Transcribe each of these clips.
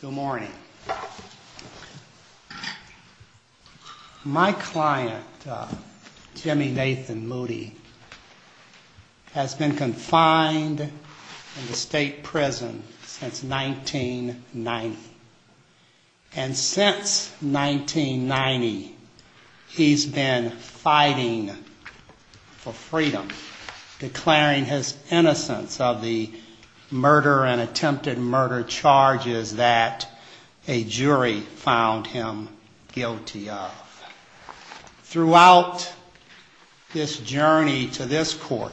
Good morning. My client, Jimmy Nathan Moody, has been confined in the state prison since 1990. And since 1990, he's been fighting for freedom, declaring his innocence of the murder and attempted murder charges that a jury found him guilty of. Throughout his journey to this court,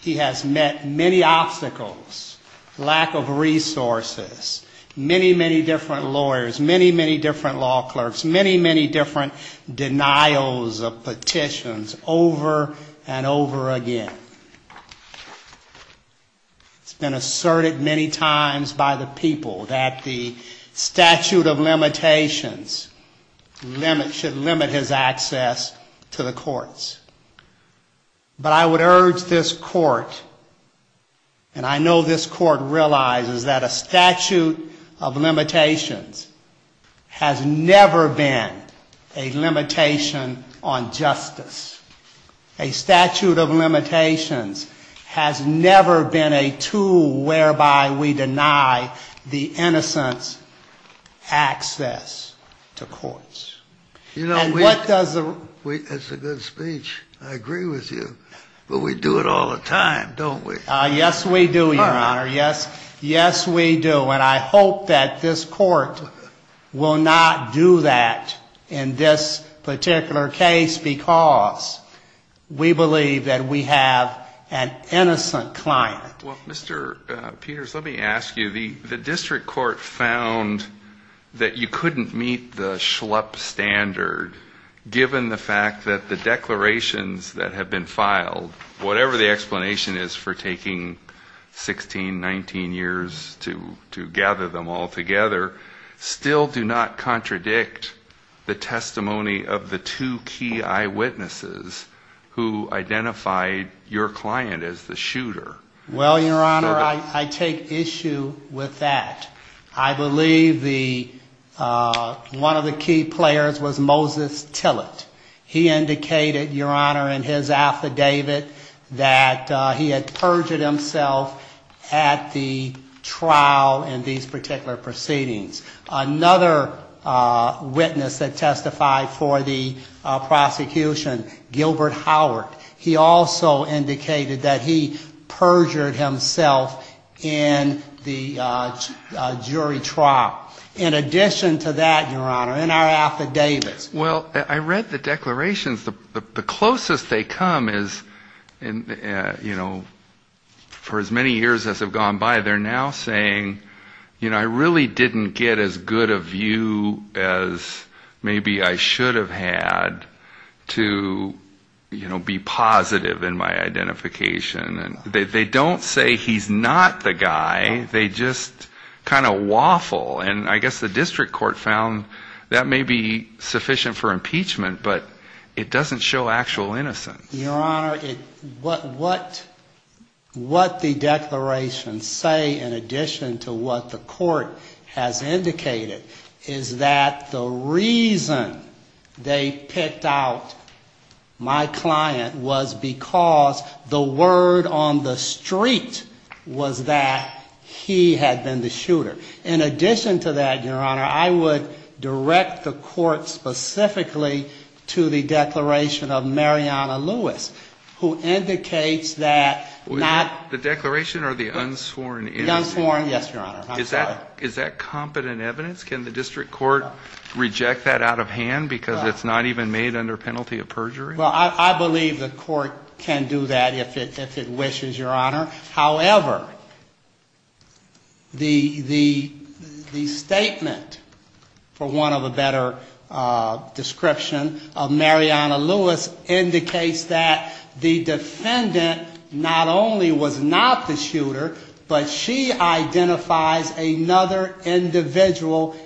he has met many obstacles, lack of resources, many, many different lawyers, many, many different law clerks, many, many different denials of petitions over and over again. He's been asserted many times by the people that the statute of limitations should limit his access to the courts. But I would urge this court, and I know this court realizes that a statute of limitations has never been a limitation on justice. A statute of limitations has never been a tool whereby we deny the innocent access to courts. That's a good speech. I agree with you. But we do it all the time, don't we? Yes, we do, Your Honor. Yes, we do. And I hope that this court will not do that in this particular case because we believe that we have an innocent client. Well, Mr. Peters, let me ask you, the district court found that you couldn't meet the schlup standard given the fact that the declarations that have been filed, whatever the explanation is for taking 16, 19 years to gather them all together, still do not contradict the testimony of the two key eyewitnesses who identified your client as the shooter. Well, Your Honor, I take issue with that. I believe one of the key players was Moses Tillett. He indicated, Your Honor, in his affidavit that he had perjured himself at the trial in these particular proceedings. Another witness that testified for the prosecution, Gilbert Howard, he also indicated that he perjured himself in the jury trial. In addition to that, Your Honor, in our affidavit. Well, I read the declarations. The closest they come is, you know, for as many years as have gone by, they're now saying, you know, I really didn't get as good a view as maybe I should have had to be positive in my identification. They don't say he's not the guy. They just kind of waffle. And I guess the district court found that may be sufficient for impeachment, but it doesn't show actual innocence. Your Honor, what the declarations say, in addition to what the court has indicated, is that the reason they picked out my client was because the word on the street was that he had been the shooter. In addition to that, Your Honor, I would direct the court specifically to the declaration of Mariana Lewis, who indicates that not… The declaration or the unsworn indication? The unsworn, yes, Your Honor. Is that competent evidence? Can the district court reject that out of hand because it's not even made under penalty of perjury? Well, I believe the court can do that if it wishes, Your Honor. However, the statement, for want of a better description, of Mariana Lewis indicates that the defendant not only was not the shooter, but she identifies another individual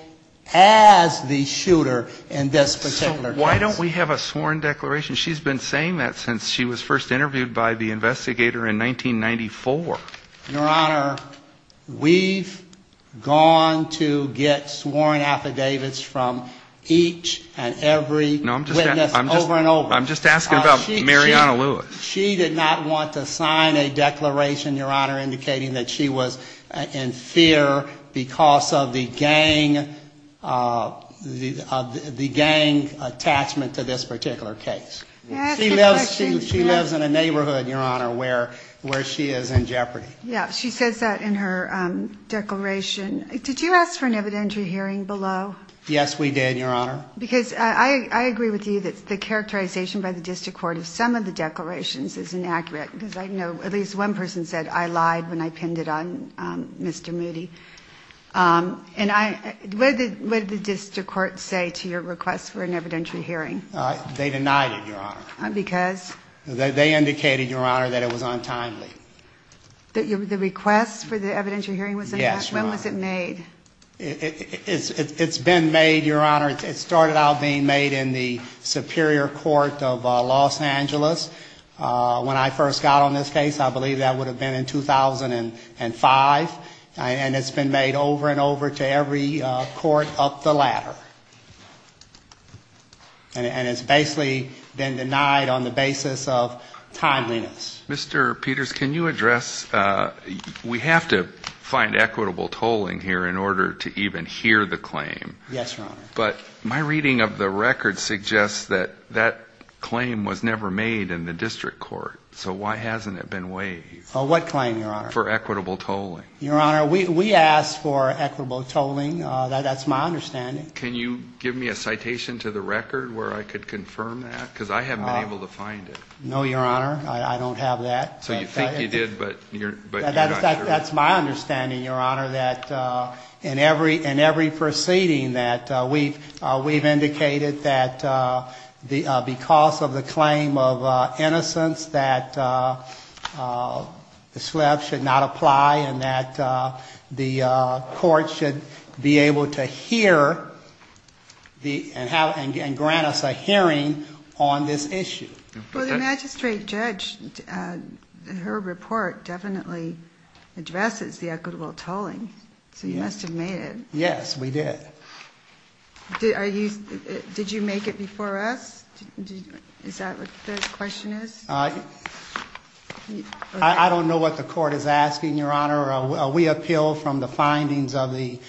as the shooter in this particular case. Why don't we have a sworn declaration? She's been saying that since she was first interviewed by the investigator in 1994. Your Honor, we've gone to get sworn affidavits from each and every witness over and over. I'm just asking about Mariana Lewis. She did not want to sign a declaration, Your Honor, indicating that she was in fear because of the gang attachment to this particular case. She lives in a neighborhood, Your Honor, where she is in jeopardy. Yeah, she says that in her declaration. Did you ask for an evidentiary hearing below? Yes, we did, Your Honor. Because I agree with you that the characterization by the district court of some of the declarations is inaccurate. At least one person said, I lied when I pinned it on Mr. Moody. What did the district court say to your request for an evidentiary hearing? They denied it, Your Honor. Because? They indicated, Your Honor, that it was untimely. The request for the evidentiary hearing? Yes, Your Honor. When was it made? It's been made, Your Honor. It started out being made in the Superior Court of Los Angeles. When I first got on this case, I believe that would have been in 2005. And it's been made over and over to every court up the ladder. And it's basically been denied on the basis of time limits. Mr. Peters, can you address, we have to find equitable tolling here in order to even hear the claim. Yes, Your Honor. But my reading of the record suggests that that claim was never made in the district court. So why hasn't it been waived? What claim, Your Honor? For equitable tolling. Your Honor, we asked for equitable tolling. That's my understanding. Can you give me a citation to the record where I could confirm that? Because I haven't been able to find it. No, Your Honor. I don't have that. So you think you did, but you're not sure. That's my understanding, Your Honor, that in every proceeding that we've indicated that because of the claim of innocence, that the SLEP should not apply and that the court should be able to hear and grant us a hearing on this issue. Well, the magistrate judge in her report definitely addresses the equitable tolling. So you must have made it. Yes, we did. Did you make it before us? Is that what the question is? I don't know what the court is asking, Your Honor. We appealed from the findings of the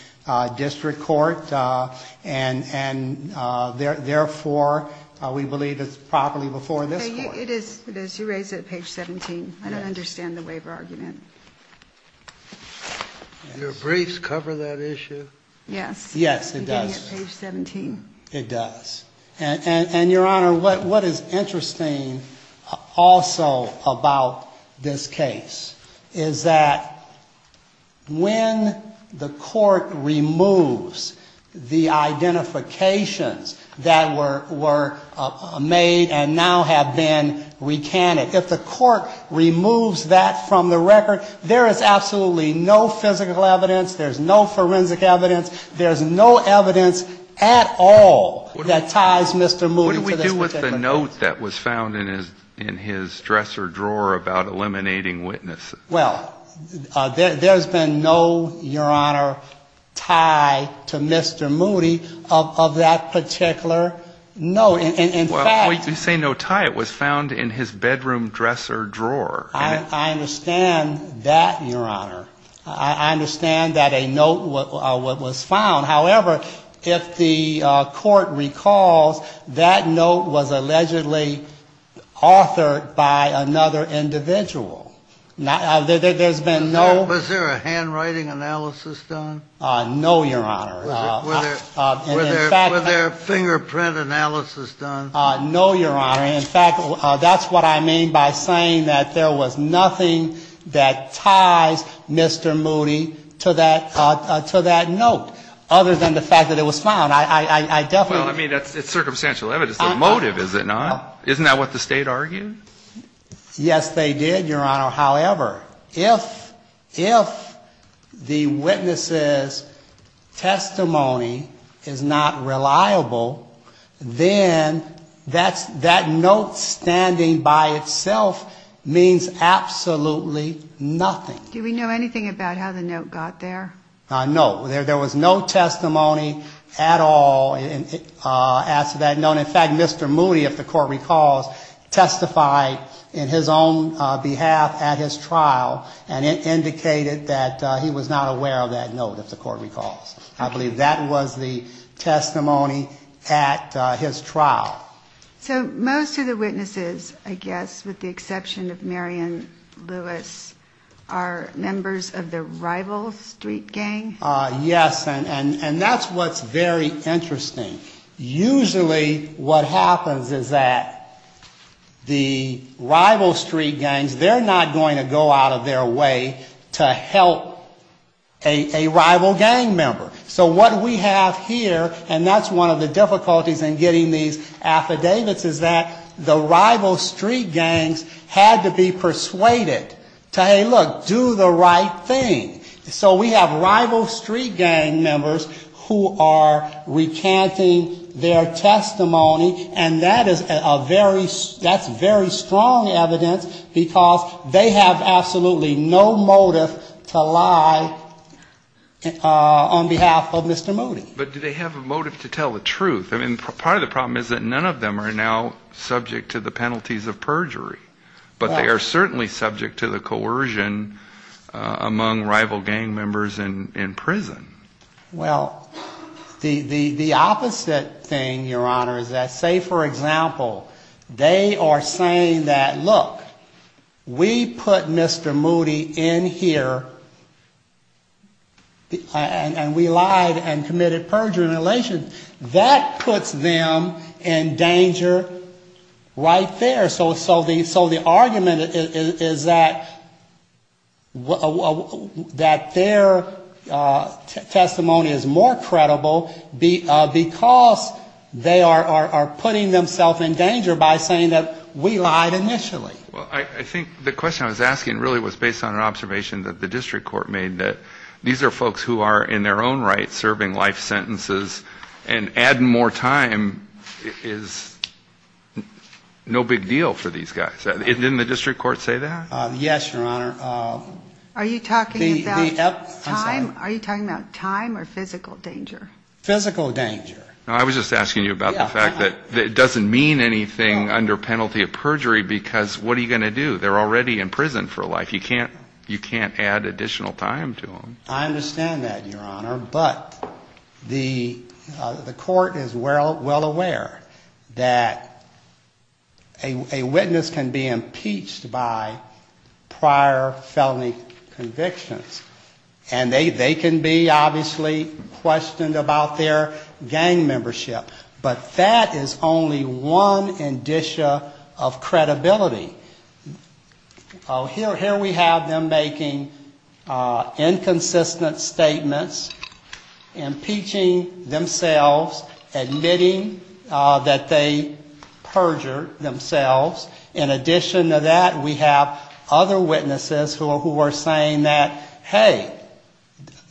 district court, and therefore, we believe it's probably before this court. It is. You raised it at page 17. I don't understand the waiver argument. Do your briefs cover that issue? Yes. Yes, it does. It's on page 17. It does. And, Your Honor, what is interesting also about this case is that when the court removes the identifications that were made and now have been recanted, if the court removes that from the record, there is absolutely no physical evidence, there's no forensic evidence, there's no evidence at all that ties Mr. Moody to this case. What do we do with the note that was found in his dresser drawer about eliminating witnesses? Well, there's been no, Your Honor, tie to Mr. Moody of that particular note. In fact — Wait, you say no tie. It was found in his bedroom dresser drawer. I understand that, Your Honor. I understand that a note was found. However, if the court recalls, that note was allegedly authored by another individual. There's been no — Was there a handwriting analysis done? No, Your Honor. Was there a fingerprint analysis done? No, Your Honor. In fact, that's what I mean by saying that there was nothing that ties Mr. Moody to that note, other than the fact that it was found. I definitely — Well, I mean, it's circumstantial evidence. The motive, is it not? Isn't that what the State argued? Your Honor, however, if the witness's testimony is not reliable, then that note standing by itself means absolutely nothing. Do we know anything about how the note got there? No. There was no testimony at all after that note. And in fact, Mr. Moody, if the court recalls, testified in his own behalf at his trial, and it indicated that he was not aware of that note, if the court recalls. I believe that was the testimony at his trial. So most of the witnesses, I guess, with the exception of Marion Lewis, are members of the rival street gang? Yes, and that's what's very interesting. Usually what happens is that the rival street gangs, they're not going to go out of their way to help a rival gang member. So what we have here, and that's one of the difficulties in getting these affidavits, is that the rival street gangs had to be persuaded to, hey, look, do the right thing. So we have rival street gang members who are recanting their testimony, and that's very strong evidence because they have absolutely no motive to lie on behalf of Mr. Moody. But do they have a motive to tell the truth? I mean, part of the problem is that none of them are now subject to the penalties of perjury, but they are certainly subject to the coercion among rival gang members in prison. Well, the opposite thing, Your Honor, is that, say, for example, they are saying that, look, we put Mr. Moody in here and we lied and committed perjury in relation. That puts them in danger right there. So the argument is that their testimony is more credible because they are putting themselves in danger by saying that we lied initially. Well, I think the question I was asking really was based on an observation that the district court made, that these are folks who are, in their own right, serving life sentences, and adding more time is no big deal for these guys. Didn't the district court say that? Yes, Your Honor. Are you talking about time or physical danger? Physical danger. No, I was just asking you about the fact that it doesn't mean anything under penalty of perjury because what are you going to do? They're already in prison for life. You can't add additional time to them. I understand that, Your Honor, but the court is well aware that a witness can be impeached by prior felony convictions, and they can be obviously questioned about their gang membership, but that is only one indicia of credibility. Here we have them making inconsistent statements, impeaching themselves, admitting that they perjured themselves. In addition to that, we have other witnesses who are saying that, hey,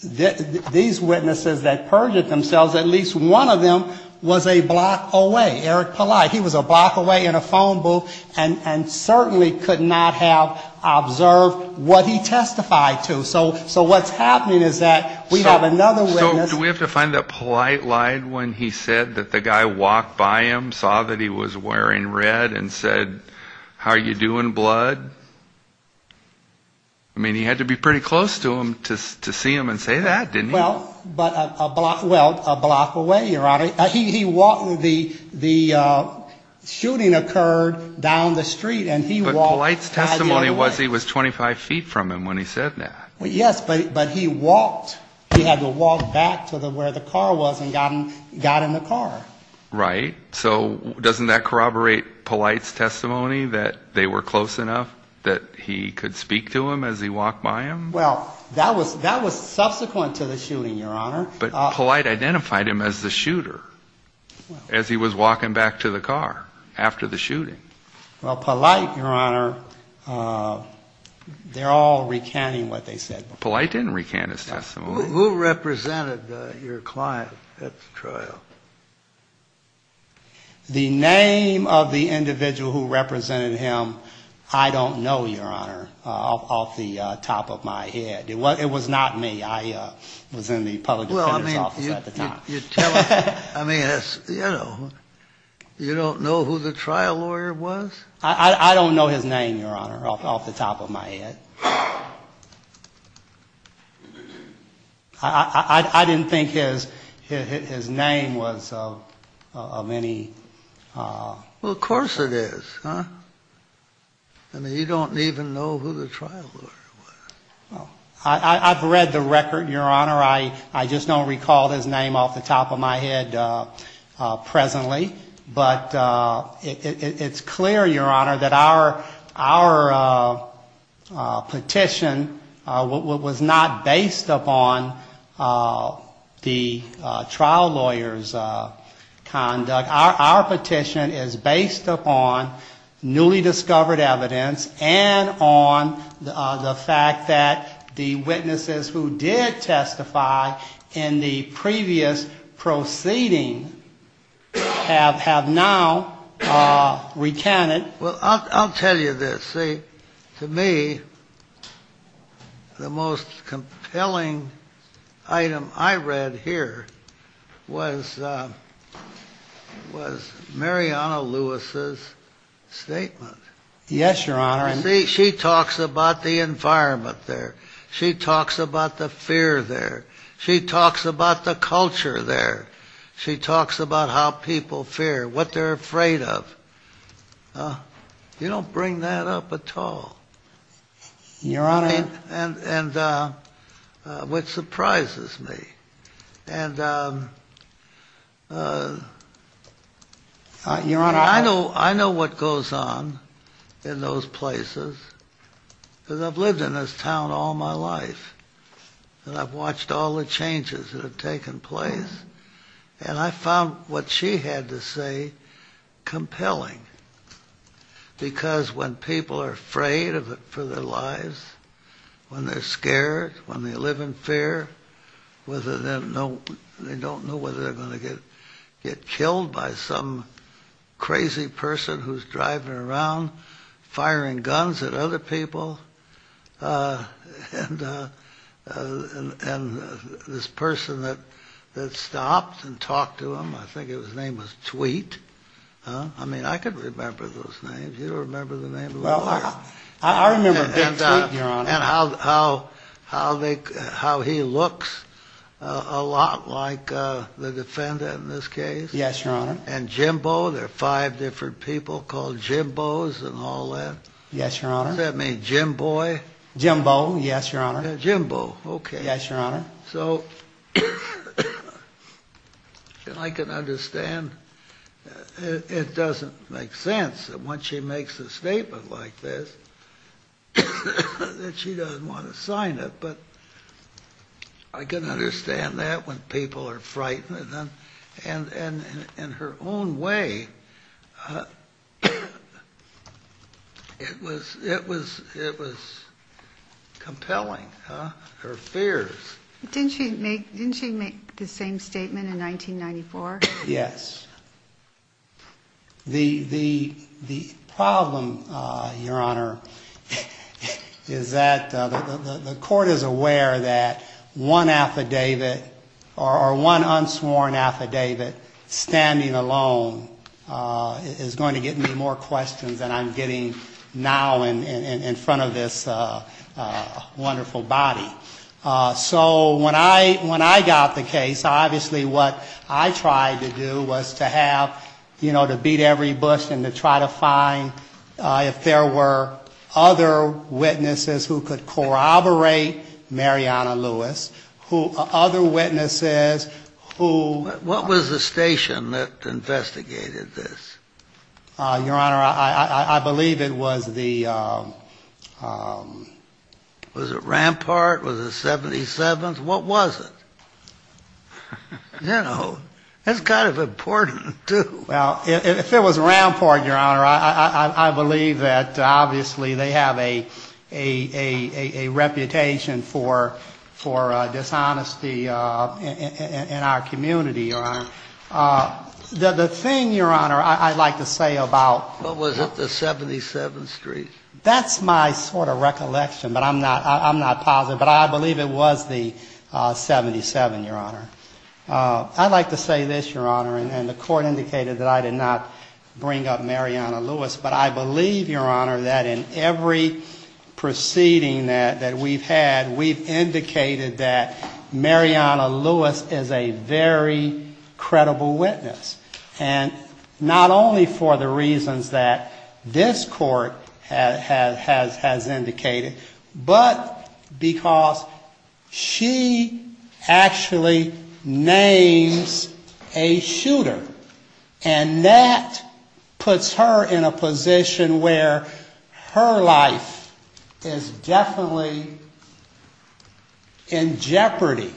these witnesses that perjured themselves, at least one of them was a block away, Eric Collide. He was a block away in a phone booth and certainly could not have observed what he testified to. So what's happening is that we have another witness. So do we have to find that polite line when he said that the guy walked by him, saw that he was wearing red, and said, how are you doing, blood? I mean, he had to be pretty close to him to see him and say that, didn't he? Well, a block away, Your Honor. He walked, the shooting occurred down the street, and he walked. But polite testimony was he was 25 feet from him when he said that. Yes, but he walked. He had to walk back to where the car was and got in the car. Right. So doesn't that corroborate polite testimony that they were close enough that he could speak to him as he walked by him? Well, that was subsequent to the shooting, Your Honor. But polite identified him as the shooter as he was walking back to the car after the shooting. Well, polite, Your Honor, they're all recanting what they said. Polite didn't recant his testimony. Who represented your client at the trial? The name of the individual who represented him, I don't know, Your Honor, off the top of my head. It was not me. I was in the public defense office at the time. I mean, you don't know who the trial lawyer was? I don't know his name, Your Honor, off the top of my head. I didn't think his name was of any... Well, of course it is. I mean, you don't even know who the trial lawyer was. I've read the record, Your Honor. I just don't recall his name off the top of my head presently. But it's clear, Your Honor, that our petition was not based upon the trial lawyer's conduct. Our petition is based upon newly discovered evidence and on the fact that the witnesses who did testify in the previous proceeding have now recanted. Well, I'll tell you this. You see, to me, the most compelling item I read here was Mariana Lewis' statement. Yes, Your Honor. She talks about the environment there. She talks about the fear there. She talks about the culture there. She talks about how people fear, what they're afraid of. You don't bring that up at all, which surprises me. I know what goes on in those places, because I've lived in this town all my life, and I've watched all the changes that have taken place. And I found what she had to say compelling. Because when people are afraid for their lives, when they're scared, when they live in fear, they don't know whether they're going to get killed by some crazy person who's driving around, firing guns at other people. And this person that stops and talks to him, I think his name was Tweet. I mean, I can remember those names. Do you remember the name of that guy? I remember Dick Tweet, Your Honor. And how he looks a lot like the defendant in this case. Yes, Your Honor. And Jimbo, there are five different people called Jimbos and all that. Yes, Your Honor. What does that mean, Jimboy? Jimbo, yes, Your Honor. Jimbo, okay. Yes, Your Honor. So I can understand. It doesn't make sense that when she makes a statement like this that she doesn't want to sign it. But I can understand that when people are frightened. And in her own way, it was compelling, her fears. Didn't she make the same statement in 1994? Yes. The problem, Your Honor, is that the court is aware that one affidavit or one unsworn affidavit standing alone is going to get me more questions than I'm getting now in front of this wonderful body. So when I got the case, obviously what I tried to do was to have, you know, to beat every bust and to try to find if there were other witnesses who could corroborate Mariana Lewis. Other witnesses who... What was the station that investigated this? Your Honor, I believe it was the... Was it Rampart? Was it 77th? What was it? You know, that's kind of important, too. Well, if it was Rampart, Your Honor, I believe that obviously they have a reputation for dishonesty in our community, Your Honor. The thing, Your Honor, I'd like to say about... What was it, the 77th Street? That's my sort of recollection, but I'm not positive, but I believe it was the 77th, Your Honor. I'd like to say this, Your Honor, and the court indicated that I did not bring up Mariana Lewis, but I believe, Your Honor, that in every proceeding that we've had, we've indicated that Mariana Lewis is a very credible witness, and not only for the reasons that this court has indicated, but because she actually names a shooter, and that puts her in a position where her life is definitely in jeopardy,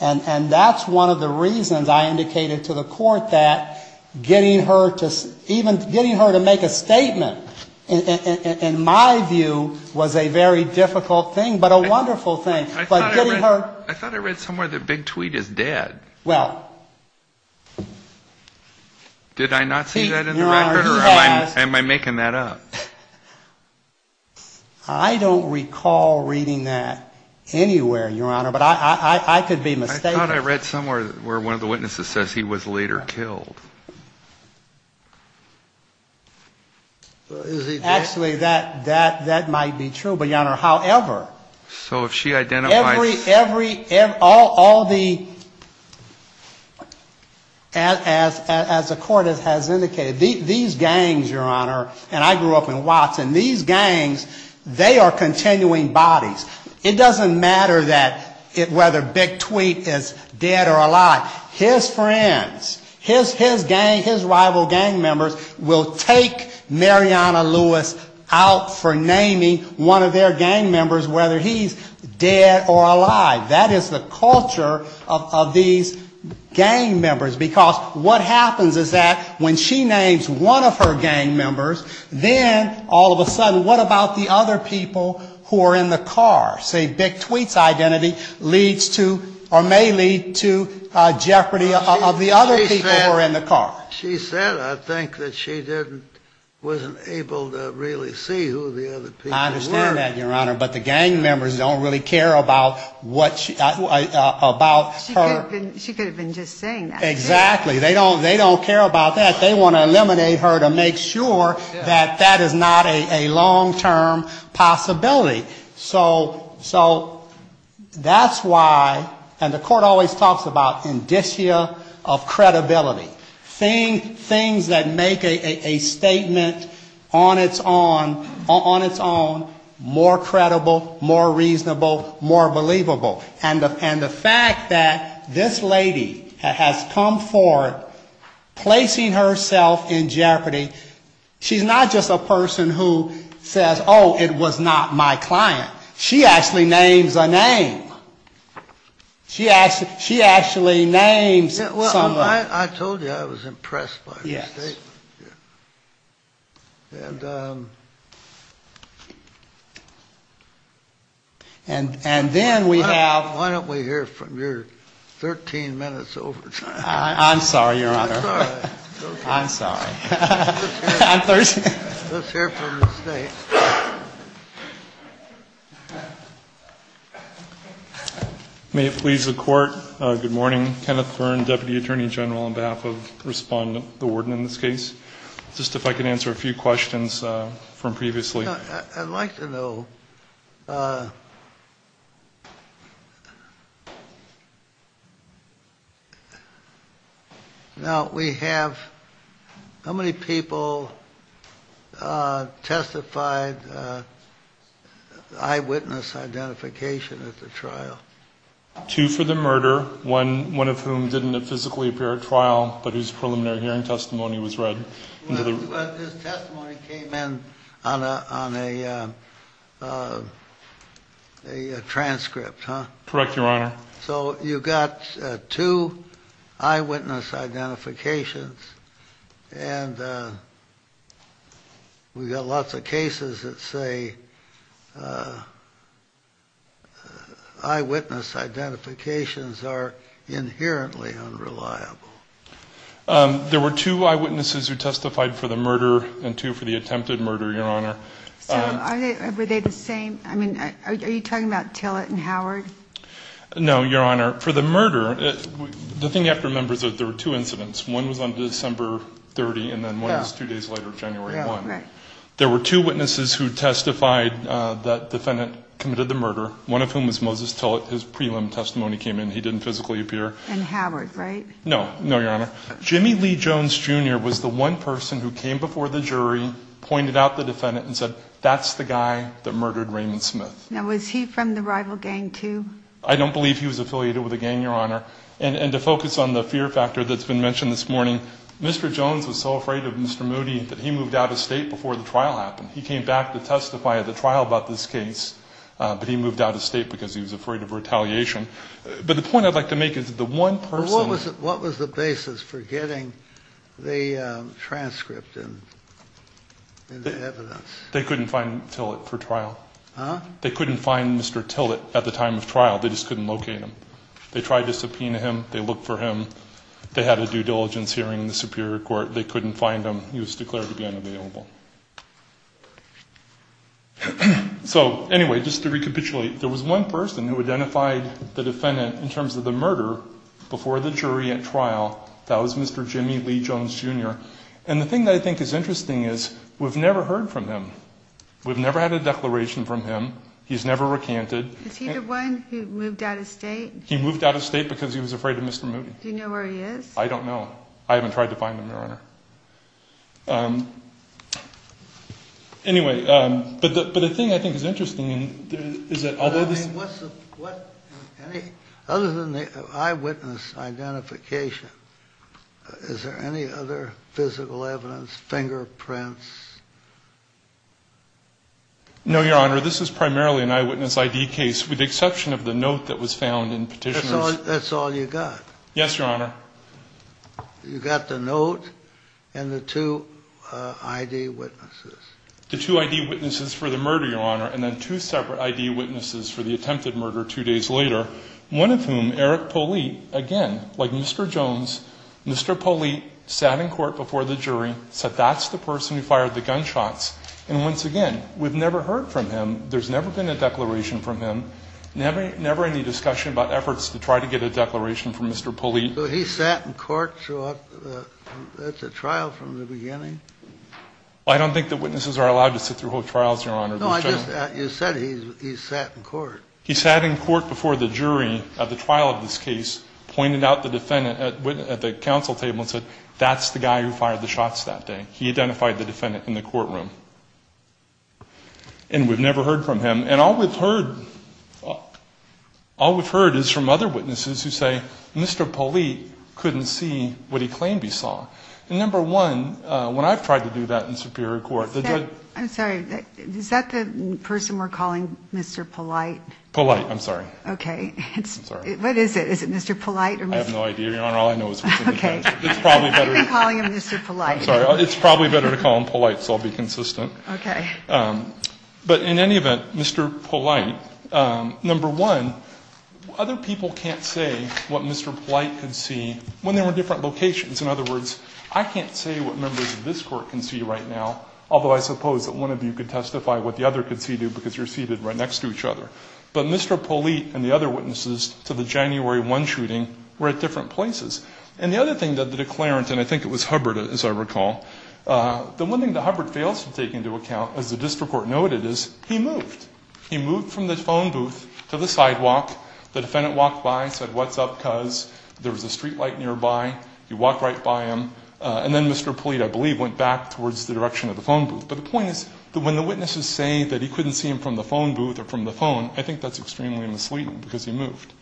and that's one of the reasons I indicated to the court that getting her to make a statement, in my view, was a very difficult thing, but a wonderful thing. I thought I read somewhere that Big Tweet is dead. Well... Did I not see that in the record, or am I making that up? I don't recall reading that anywhere, Your Honor, but I could be mistaken. I thought I read somewhere where one of the witnesses says he was later killed. Actually, that might be true, but Your Honor, however... So if she identifies... As the court has indicated, these gangs, Your Honor, and I grew up in Watson, these gangs, they are continuing bodies. It doesn't matter whether Big Tweet is dead or alive. His friends, his rival gang members will take Mariana Lewis out for naming one of their gang members whether he's dead or alive. That is the culture of these gang members, because what happens is that when she names one of her gang members, then all of a sudden, what about the other people who are in the car? See, Big Tweet's identity may lead to jeopardy of the other people who are in the car. She said, I think, that she wasn't able to really see who the other people were. I understand that, Your Honor, but the gang members don't really care about her... She could have been just saying that. Exactly. They don't care about that. They want to eliminate her to make sure that that is not a long-term possibility. So that's why, and the court always talks about indicia of credibility, things that make a statement on its own more credible, more reasonable, more believable. And the fact that this lady has come forward placing herself in jeopardy, she's not just a person who says, oh, it was not my client. She actually names a name. She actually names someone. Well, I told you I was impressed by her statement. Yes. And then we have... Why don't we hear from your 13 minutes overtime? I'm sorry, Your Honor. I'm sorry. Let's hear from the state. May it please the Court, good morning. Kenneth Hearn, Deputy Attorney General on behalf of Respondent, the Warden in this case. Just if I could answer a few questions from previously. I'd like to know... Now, we have... How many people testified eyewitness identification at the trial? Two for the murder, one of whom didn't physically appear at trial, but his preliminary hearing testimony was read. This testimony came in on a transcript, huh? Correct, Your Honor. So you've got two eyewitness identifications, and we've got lots of cases that say eyewitness identifications are inherently unreliable. There were two eyewitnesses who testified for the murder and two for the attempted murder, Your Honor. Were they the same? I mean, are you talking about Tillett and Howard? No, Your Honor. For the murder, the thing you have to remember is that there were two incidents. One was on December 30, and then one was two days later, January 1. There were two witnesses who testified that the defendant committed the murder, one of whom was Moses Tillett. His prelim testimony came in. He didn't physically appear. And Howard, right? No, Your Honor. Jimmy Lee Jones, Jr. was the one person who came before the jury, pointed out the defendant, and said, that's the guy that murdered Raymond Smith. Now, was he from the rival gang too? I don't believe he was affiliated with a gang, Your Honor. And to focus on the fear factor that's been mentioned this morning, Mr. Jones was so afraid of Mr. Moody that he moved out of state before the trial happened. He came back to testify at the trial about this case, but he moved out of state because he was afraid of retaliation. But the point I'd like to make is the one person. What was the basis for getting the transcript and the evidence? They couldn't find Tillett for trial. Huh? They couldn't find Mr. Tillett at the time of trial. They just couldn't locate him. They tried to subpoena him. They looked for him. They had a due diligence hearing in the Superior Court. They couldn't find him. He was declared to be unavailable. So, anyway, just to recapitulate, there was one person who identified the defendant in terms of the murder before the jury at trial. That was Mr. Jimmy Lee Jones, Jr. And the thing that I think is interesting is we've never heard from him. We've never had a declaration from him. He's never recanted. Is he the one who moved out of state? He moved out of state because he was afraid of Mr. Moody. Do you know where he is? I don't know. I haven't tried to find him, Your Honor. Anyway, but the thing I think is interesting is that other than the eyewitness identification, is there any other physical evidence, fingerprints? No, Your Honor. This is primarily an eyewitness ID case with the exception of the note that was found in Petitioner's. That's all you got? Yes, Your Honor. You got the note and the two ID witnesses. The two ID witnesses for the murder, Your Honor, and then two separate ID witnesses for the attempted murder two days later, one of whom, Eric Polite, again, like Mr. Jones, Mr. Polite, sat in court before the jury, said that's the person who fired the gunshots. And once again, we've never heard from him. There's never been a declaration from him. Never any discussion about efforts to try to get a declaration from Mr. Polite. But he sat in court throughout the trial from the beginning. I don't think that witnesses are allowed to sit through whole trials, Your Honor. No, you said he sat in court. He sat in court before the jury at the trial of this case, pointed out the defendant at the counsel table and said, that's the guy who fired the shots that day. He identified the defendant in the courtroom. And we've never heard from him. And all we've heard is from other witnesses who say, Mr. Polite couldn't see what he claimed he saw. And number one, when I've tried to do that in superior court, the judge – I'm sorry. Is that the person we're calling Mr. Polite? Polite, I'm sorry. Okay. What is it? Is it Mr. Polite? I have no idea, Your Honor. All I know is – Okay. I'm calling him Mr. Polite. Sorry. It's probably better to call him Polite, so I'll be consistent. Okay. But in any event, Mr. Polite, number one, other people can't say what Mr. Polite could see when they were in different locations. In other words, I can't say what members of this court can see right now, although I suppose that one of you could testify what the other could see because you're seated right next to each other. But Mr. Polite and the other witnesses to the January 1 shooting were at different places. And the other thing that the declarant – and I think it was Hubbard, as I recall – the one thing that Hubbard fails to take into account, as the district court noted, is he moved. He moved from the phone booth to the sidewalk. The defendant walked by and said, what's up, cuz? There was a streetlight nearby. He walked right by him. And then Mr. Polite, I believe, went back towards the direction of the phone booth. But the point is that when the witnesses say that he couldn't see him from the phone booth or from the phone, I think that's extremely misleading because he moved.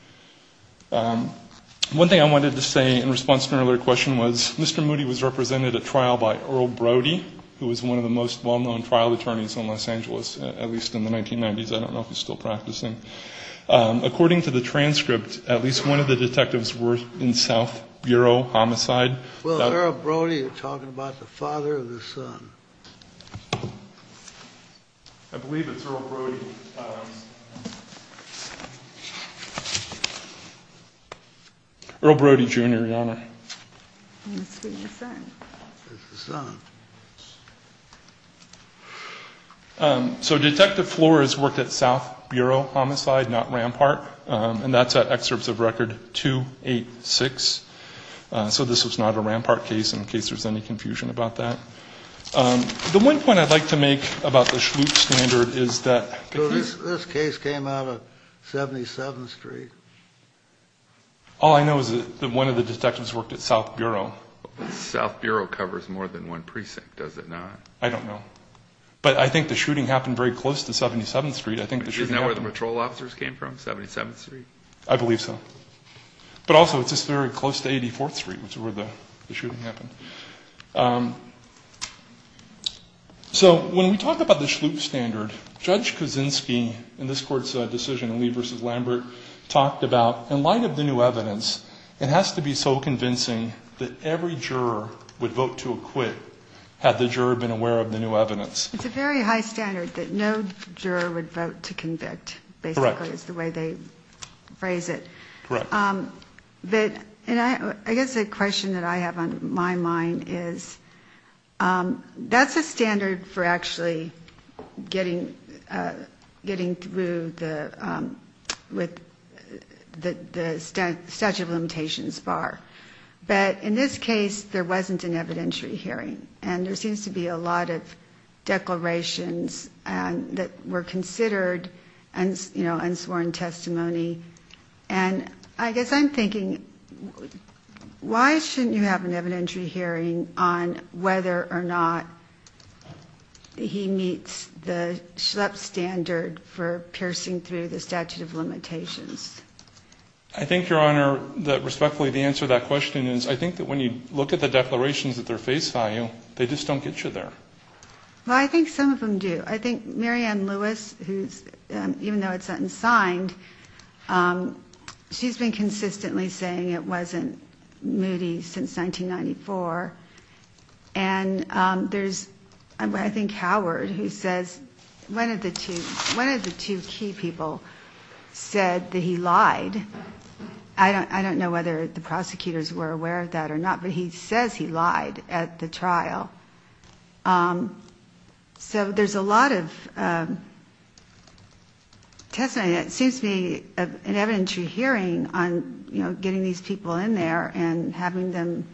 One thing I wanted to say in response to an earlier question was Mr. Moody was represented at trial by Earl Brody, who was one of the most well-known trial attorneys in Los Angeles, at least in the 1990s. I don't know if he's still practicing. According to the transcript, at least one of the detectives worked in South Bureau Homicide. Well, Earl Brody is talking about the father of the son. I believe it's Earl Brody. Earl Brody, Jr., your honor. So Detective Flores worked at South Bureau Homicide, not Rampart. And that's at excerpts of Record 286. So this is not a Rampart case in case there's any confusion about that. The one point I'd like to make about the Schlute standard is that this case came out of 77th Street. All I know is that one of the detectives worked at South Bureau. South Bureau covers more than one precinct, does it not? I don't know. But I think the shooting happened very close to 77th Street. Isn't that where the patrol officers came from, 77th Street? I believe so. But also just very close to 84th Street is where the shooting happened. So when we talk about the Schlute standard, Judge Kuczynski in this court's decision, Lee v. Lambert, talked about in light of the new evidence, it has to be so convincing that every juror would vote to acquit had the juror been aware of the new evidence. It's a very high standard that no juror would vote to convict, basically is the way they phrase it. I guess the question that I have on my mind is, that's a standard for actually getting through the statute of limitations bar. But in this case, there wasn't an evidentiary hearing, and there seems to be a lot of declarations that were considered unsworn testimony. And I guess I'm thinking, why shouldn't you have an evidentiary hearing on whether or not he meets the Schlute standard for piercing through the statute of limitations? I think, Your Honor, that, respectfully, the answer to that question is, I think that when you look at the declarations that they're based on, they just don't get you there. Well, I think some of them do. I think Marianne Lewis, even though it's unsigned, she's been consistently saying it wasn't Moody since 1994. And there's, I think, Howard, who says, one of the two key people said that he lied. I don't know whether the prosecutors were aware of that or not, but he says he lied at the trial. So there's a lot of testimony that seems to be an evidentiary hearing on getting these people in there and having them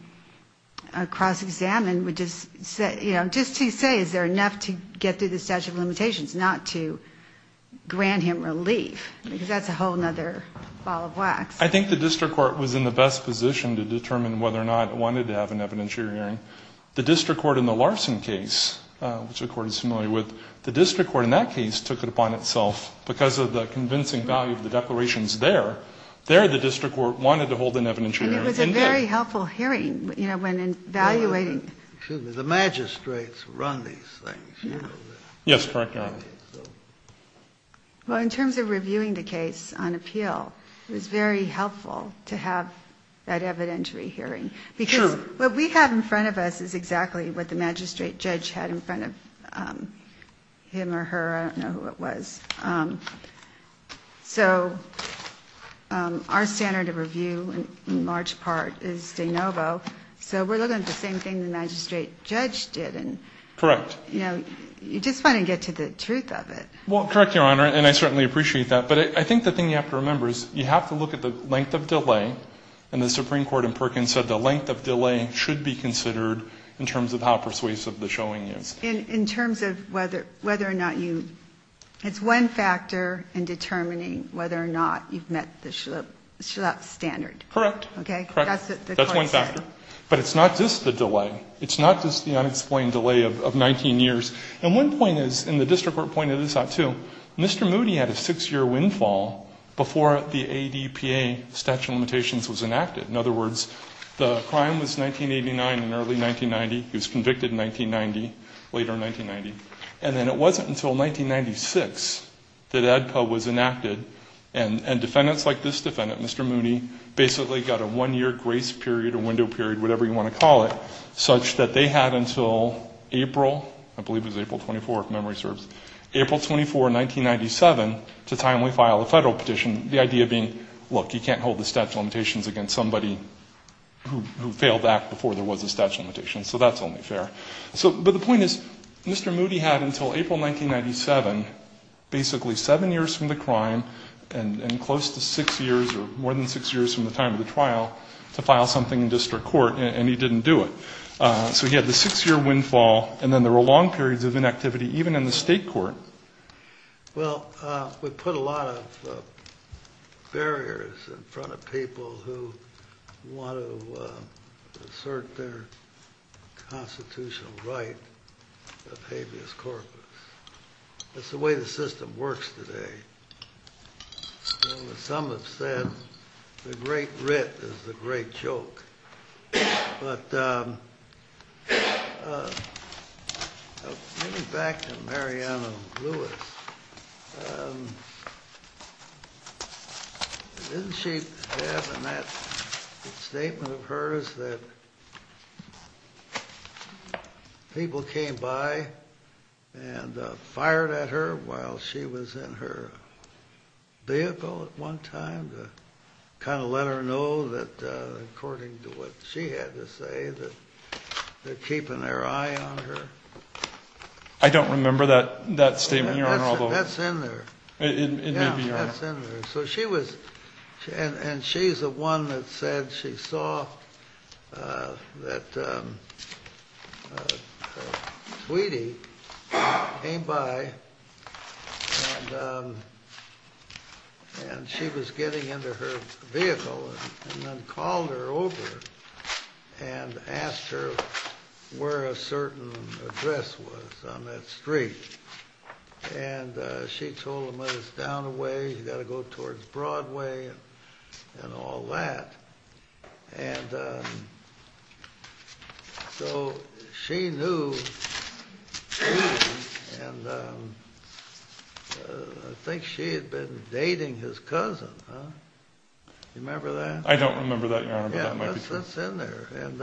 cross-examined, which is just to say, is there enough to get through the statute of limitations not to grant him relief? Because that's a whole other ball of wax. I think the district court was in the best position to determine whether or not it wanted to have an evidentiary hearing. The district court in the Larson case, which we're quite familiar with, the district court in that case took it upon itself, because of the convincing value of the declarations there, there the district court wanted to hold an evidentiary hearing. It was a very helpful hearing when evaluating. The magistrates run these things. Yes. Well, in terms of reviewing the case on appeal, it's very helpful to have that evidentiary hearing. What we have in front of us is exactly what the magistrate judge had in front of him or her. I don't know who it was. So our standard of review in large part is de novo. So we're looking at the same thing the magistrate judge did. Correct. You just want to get to the truth of it. Well, correct, Your Honor, and I certainly appreciate that. But I think the thing you have to remember is you have to look at the length of delay, and the Supreme Court in Perkins said the length of delay should be considered in terms of how persuasive the showing is. In terms of whether or not you – it's one factor in determining whether or not you've met the Schlupf standard. Correct. That's one factor. But it's not just the delay. It's not just the unexplained delay of 19 years. And one point is, and the district court pointed this out too, Mr. Moody had a six-year windfall before the ADPA statute of limitations was enacted. In other words, the crime was 1989 and early 1990. He was convicted in 1990, later in 1990. And then it wasn't until 1996 that ADPA was enacted, and defendants like this defendant, Mr. Moody, basically got a one-year grace period, a window period, whatever you want to call it, such that they had until April – I believe it was April 24, if memory serves – April 24, 1997, the time we filed the federal petition, the idea being, look, you can't hold the statute of limitations against somebody who failed back before there was a statute of limitations. So that's only fair. But the point is, Mr. Moody had until April 1997, basically seven years from the crime and close to six years or more than six years from the time of the trial, to file something in district court, and he didn't do it. So he had the six-year windfall, and then there were long periods of inactivity, even in the state court. Well, we put a lot of barriers in front of people who want to assert their constitutional right of habeas corpus. That's the way the system works today. Some have said the great writ is the great joke. But maybe back to Mariana Lewis. Didn't she have in that statement of hers that people came by and fired at her while she was in her vehicle at one time to kind of let her know that according to what she had to say, that they're keeping their eye on her? I don't remember that statement. That's in there. That's in there. And she's the one that said she saw that Wheatie came by and she was getting into her vehicle and then called her over and asked her where a certain address was on that street. And she told him that it's down the way. You've got to go towards Broadway and all that. And so she knew Wheatie, and I think she had been dating his cousin. Do you remember that? I don't remember that, Your Honor. That's in there. And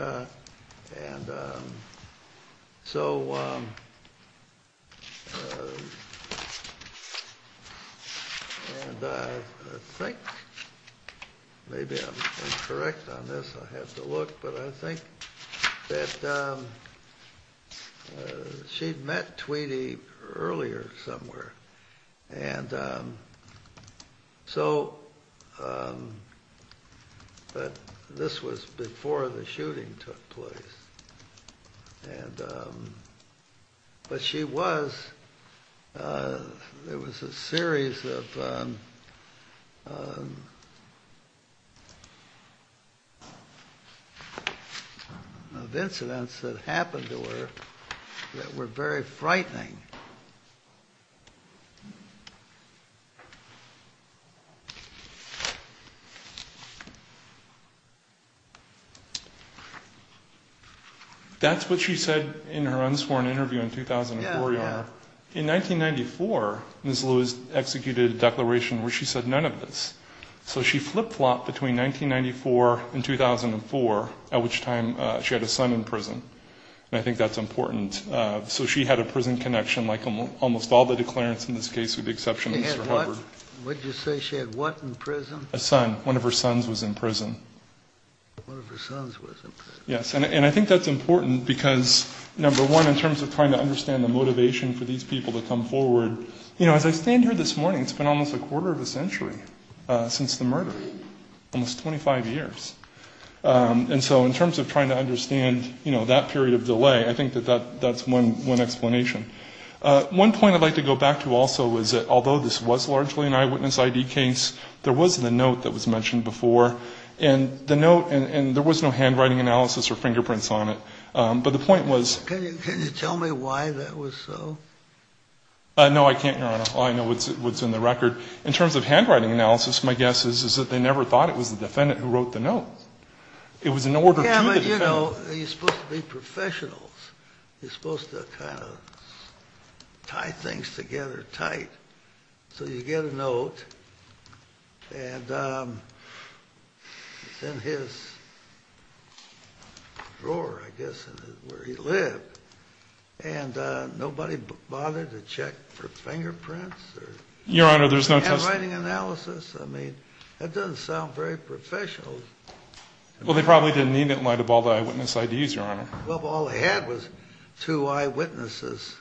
so I think maybe I'm incorrect on this. I had to look. But I think that she'd met Wheatie earlier somewhere. And so this was before the shooting took place. But she was. It was a series of incidents that happened to her that were very frightening. That's what she said in her unsporn interview in 2004, Your Honor. In 1994, Ms. Lewis executed a declaration where she said none of this. So she flip-flopped between 1994 and 2004, at which time she had a son in prison. And I think that's important. So she had a prison connection like almost all the declarants in this case, with the exception of Mr. Harvard. Would you say she had what in prison? A son. One of her sons was in prison. One of her sons was in prison. Yes. And I think that's important because, number one, in terms of trying to understand the motivation for these people to come forward, you know, as I stand here this morning, it's been almost a quarter of a century since the murder, almost 25 years. And so in terms of trying to understand, you know, that period of delay, I think that that's one explanation. One point I'd like to go back to also is that, although this was largely an eyewitness ID case, there was a note that was mentioned before. And the note, and there was no handwriting analysis or fingerprints on it. But the point was. Can you tell me why that was so? No, I can't, Your Honor. All I know is what's in the record. In terms of handwriting analysis, my guess is that they never thought it was the defendant who wrote the note. It was an order of his. Yeah, but, you know, you're supposed to be professionals. You're supposed to kind of tie things together tight. So you get a note, and it's in his drawer, I guess, where he lived. And nobody bothered to check for fingerprints? Your Honor, there's no fingerprints. Handwriting analysis? I mean, that doesn't sound very professional. Well, they probably didn't need it in light of all the eyewitness IDs, Your Honor. Well, all they had was two eyewitnesses.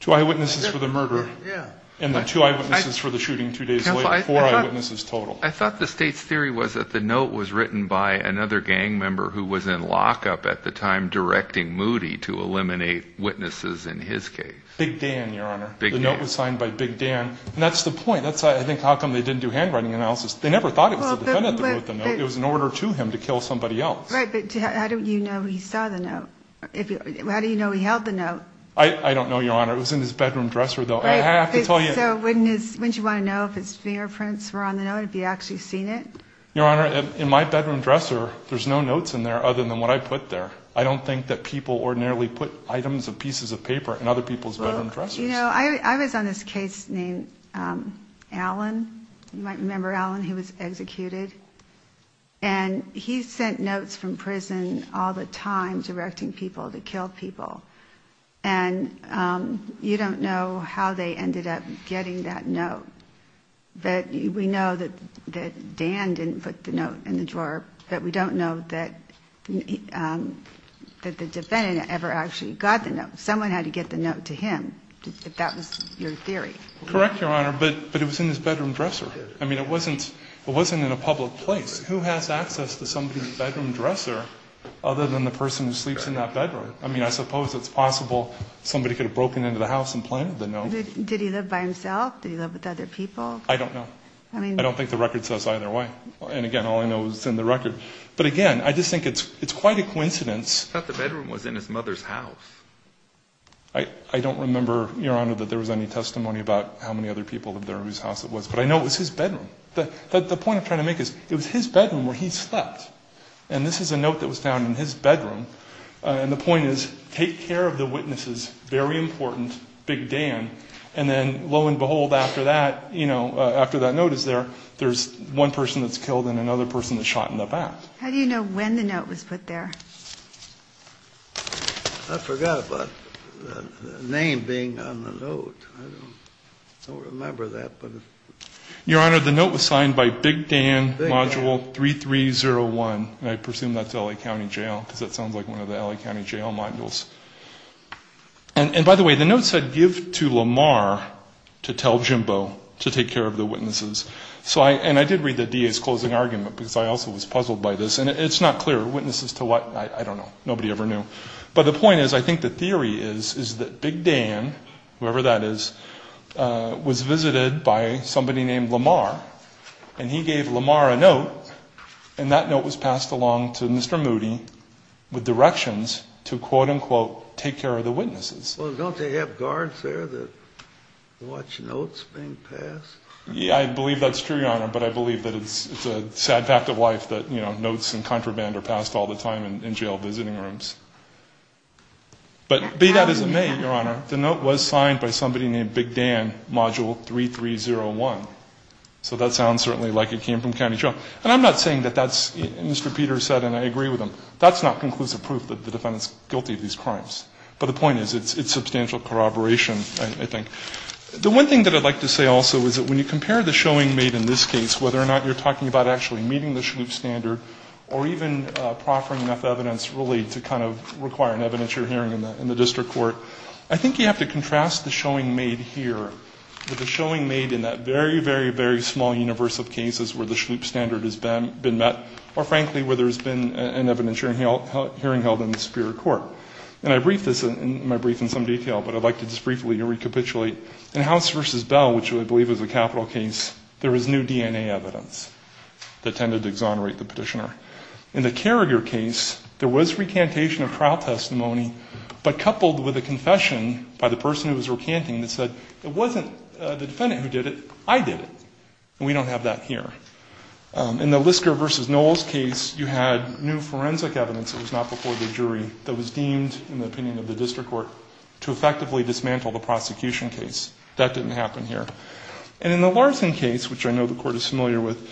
Two eyewitnesses for the murder. Yeah. And the two eyewitnesses for the shooting two days later. Four eyewitnesses total. I thought the state's theory was that the note was written by another gang member who was in lockup at the time directing Moody to eliminate witnesses in his case. Big Dan, Your Honor. Big Dan. The note was signed by Big Dan. And that's the point. That's why I think how come they didn't do handwriting analysis. They never thought it was the defendant who wrote the note. It was an order to him to kill somebody else. Right, but how do you know he saw the note? How do you know he held the note? I don't know, Your Honor. It was in his bedroom dresser, though. I have to tell you. So wouldn't you want to know if it's fingerprints were on the note, if he actually seen it? Your Honor, in my bedroom dresser, there's no notes in there other than what I put there. I don't think that people ordinarily put items and pieces of paper in other people's bedroom dressers. You know, I was on this case named Allen. You might remember Allen. He was executed. And he sent notes from prison all the time directing people to kill people. And you don't know how they ended up getting that note. We know that Dan didn't put the note in the drawer, but we don't know that the defendant ever actually got the note. Someone had to get the note to him, if that was your theory. Correct, Your Honor, but it was in his bedroom dresser. I mean, it wasn't in a public place. Who has access to somebody's bedroom dresser other than the person who sleeps in that bedroom? I mean, I suppose it's possible somebody could have broken into the house and planted the note. Did he live by himself? Did he live with other people? I don't know. I don't think the record says either way. And, again, all I know is it's in the record. But, again, I just think it's quite a coincidence. I thought the bedroom was in his mother's house. I don't remember, Your Honor, that there was any testimony about how many other people lived there or whose house it was. But I know it was his bedroom. The point I'm trying to make is it was his bedroom where he slept. And this is a note that was found in his bedroom. And the point is take care of the witnesses. Very important. Big Dan. And then, lo and behold, after that, you know, after that note is there, there's one person that's killed and another person that's shot in the back. How do you know when the note was put there? I forgot about the name being on the note. I don't remember that. Your Honor, the note was signed by Big Dan, Module 3301. And I presume that's L.A. County Jail because it sounds like one of the L.A. County Jail modules. And, by the way, the note said give to Lamar to tell Jimbo to take care of the witnesses. And I did read the DA's closing argument because I also was puzzled by this. And it's not clear. Witnesses to what? I don't know. Nobody ever knew. But the point is I think the theory is that Big Dan, whoever that is, was visited by somebody named Lamar. And he gave Lamar a note, and that note was passed along to Mr. Moody with directions to, quote, unquote, take care of the witnesses. Well, don't they have guards there that watch notes being passed? Yeah, I believe that's true, Your Honor, but I believe that it's a sad fact of life that, you know, notes and contraband are passed all the time in jail visiting rooms. But be that as it may, Your Honor, the note was signed by somebody named Big Dan, Module 3301. So that sounds certainly like it came from County Jail. And I'm not saying that that's Mr. Peter said, and I agree with him. That's not conclusive proof that the defendant's guilty of these crimes. But the point is it's substantial corroboration, I think. The one thing that I'd like to say also is that when you compare the showing made in this case, whether or not you're talking about actually meeting the Schliep standard or even proffering enough evidence, really, to kind of require an evidentiary hearing in the district court, I think you have to contrast the showing made here with the showing made in that very, very, very small universe of cases where the Schliep standard has been met or, frankly, where there's been an evidentiary hearing held in the Superior Court. And I've briefed this in some detail, but I'd like to just briefly recapitulate. In House v. Bell, which I believe is a capital case, there was new DNA evidence that tended to exonerate the petitioner. In the Carrier case, there was recantation of trial testimony, but coupled with a confession by the person who was recanting that said, it wasn't the defendant who did it, I did it. And we don't have that here. In the Lisker v. Knowles case, you had new forensic evidence that was not before the jury that was deemed, in the opinion of the district court, to effectively dismantle the prosecution case. That didn't happen here. And in the Larson case, which I know the court is familiar with,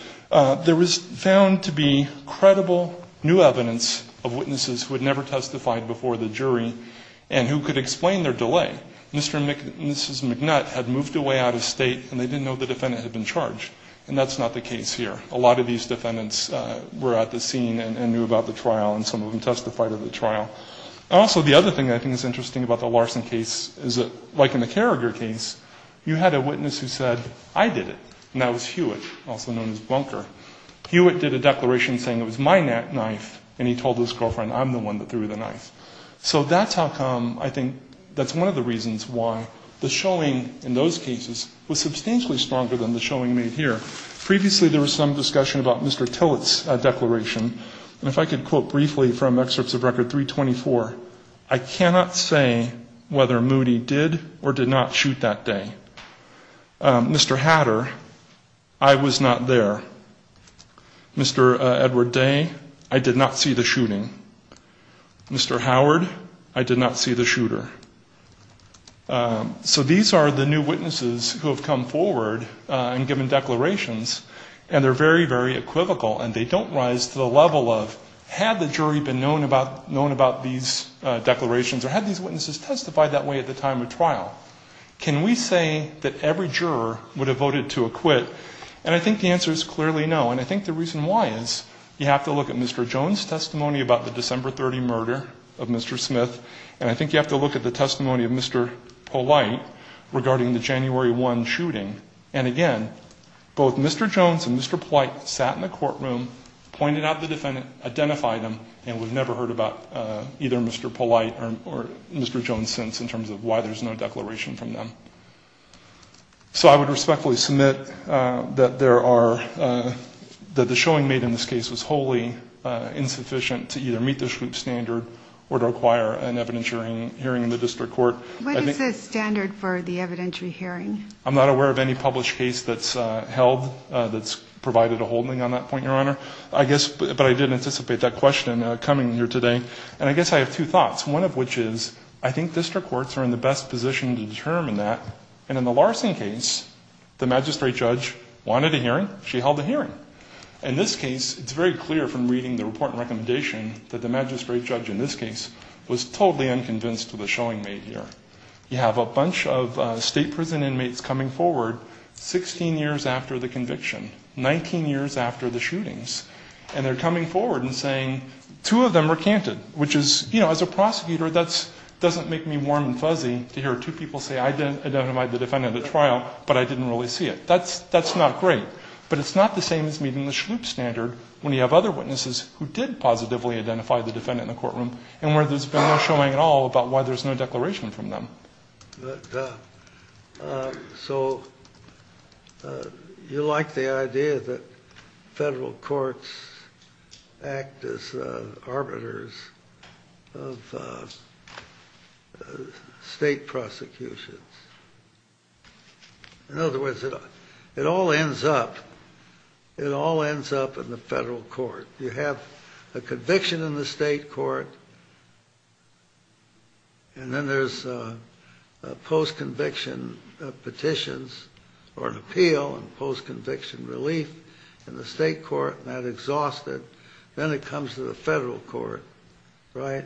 there was found to be credible new evidence of witnesses who had never testified before the jury and who could explain their delay. Mr. and Mrs. McNutt had moved away out of state, and they didn't know the defendant had been charged. And that's not the case here. A lot of these defendants were at the scene and knew about the trial, and some of them testified at the trial. Also, the other thing I think is interesting about the Larson case is that, like in the Carrier case, you had a witness who said, I did it, and that was Hewitt, also known as Bunker. Hewitt did a declaration saying it was my knife, and he told his girlfriend, I'm the one that threw the knife. So that's how come, I think, that's one of the reasons why the showing in those cases was substantially stronger than the showing made here. Previously, there was some discussion about Mr. Tillich's declaration, and if I could quote briefly from excerpts of Record 324, I cannot say whether Moody did or did not shoot that day. Mr. Hatter, I was not there. Mr. Edward Day, I did not see the shooting. Mr. Howard, I did not see the shooter. So these are the new witnesses who have come forward and given declarations, and they're very, very equivocal, and they don't rise to the level of, had the jury been known about these declarations, or had these witnesses testified that way at the time of trial, can we say that every juror would have voted to acquit? And I think the answer is clearly no, and I think the reason why is, you have to look at Mr. Jones' testimony about the December 30 murder of Mr. Smith, and I think you have to look at the testimony of Mr. Polite regarding the January 1 shooting. And again, both Mr. Jones and Mr. Polite sat in the courtroom, pointed out the defendant, identified him, and we've never heard about either Mr. Polite or Mr. Jones since, in terms of why there's no declaration from them. So I would respectfully submit that the showing made in this case was wholly insufficient to either meet the standard or to acquire an evidentiary hearing in the district court. What is the standard for the evidentiary hearing? I'm not aware of any published case that's held that's provided a holding on that point, Your Honor. I guess, but I did anticipate that question coming here today, and I guess I have two thoughts, one of which is, I think district courts are in the best position to determine that, and in the Larson case, the magistrate judge wanted a hearing, she held a hearing. In this case, it's very clear from reading the report and recommendation that the magistrate judge in this case was totally unconvinced of the showing made here. You have a bunch of state prison inmates coming forward 16 years after the conviction, 19 years after the shootings, and they're coming forward and saying, two of them recanted, which is, you know, as a prosecutor, that doesn't make me warm and fuzzy to hear two people say, I identified the defendant at trial, but I didn't really see it. That's not great, but it's not the same as reading the Shmoop standard when you have other witnesses who did positively identify the defendant in the courtroom and where there's been no showing at all about why there's no declaration from them. So you like the idea that federal courts act as arbiters of state prosecutions. In other words, it all ends up in the federal court. You have a conviction in the state court, and then there's post-conviction petitions or an appeal and post-conviction relief in the state court, and that exhausts it. Then it comes to the federal court, right?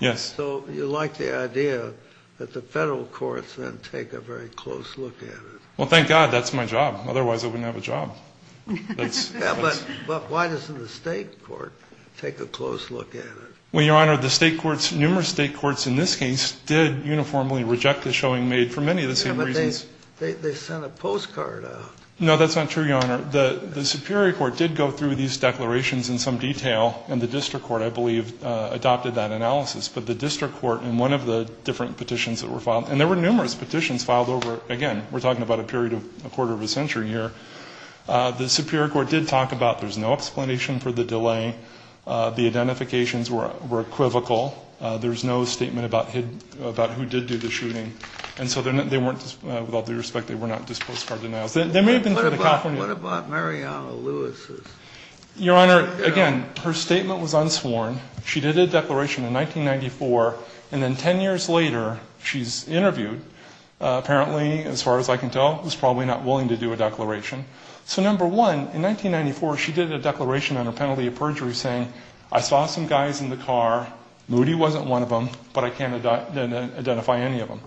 Yes. So you like the idea that the federal courts then take a very close look at it. Well, thank God. That's my job. Otherwise, I wouldn't have a job. But why doesn't the state court take a close look at it? Well, Your Honor, the state courts, numerous state courts in this case, did uniformly reject the showing made for many of the same reasons. But they sent a postcard out. No, that's not true, Your Honor. The Superior Court did go through these declarations in some detail, and the district court, I believe, adopted that analysis. But the district court in one of the different petitions that were filed, and there were numerous petitions filed over, again, we're talking about a period of a quarter of a century here. The Superior Court did talk about there's no explanation for the delay. The identifications were equivocal. There was no statement about who did do the shooting. And so they weren't, with all due respect, they were not postcard denials. What about Mariana Lewis? Your Honor, again, her statement was unsworn. She did a declaration in 1994, and then 10 years later, she's interviewed. Apparently, as far as I can tell, was probably not willing to do a declaration. So, number one, in 1994, she did a declaration on a penalty of perjury saying, I saw some guys in the car. Moody wasn't one of them, but I can't identify any of them.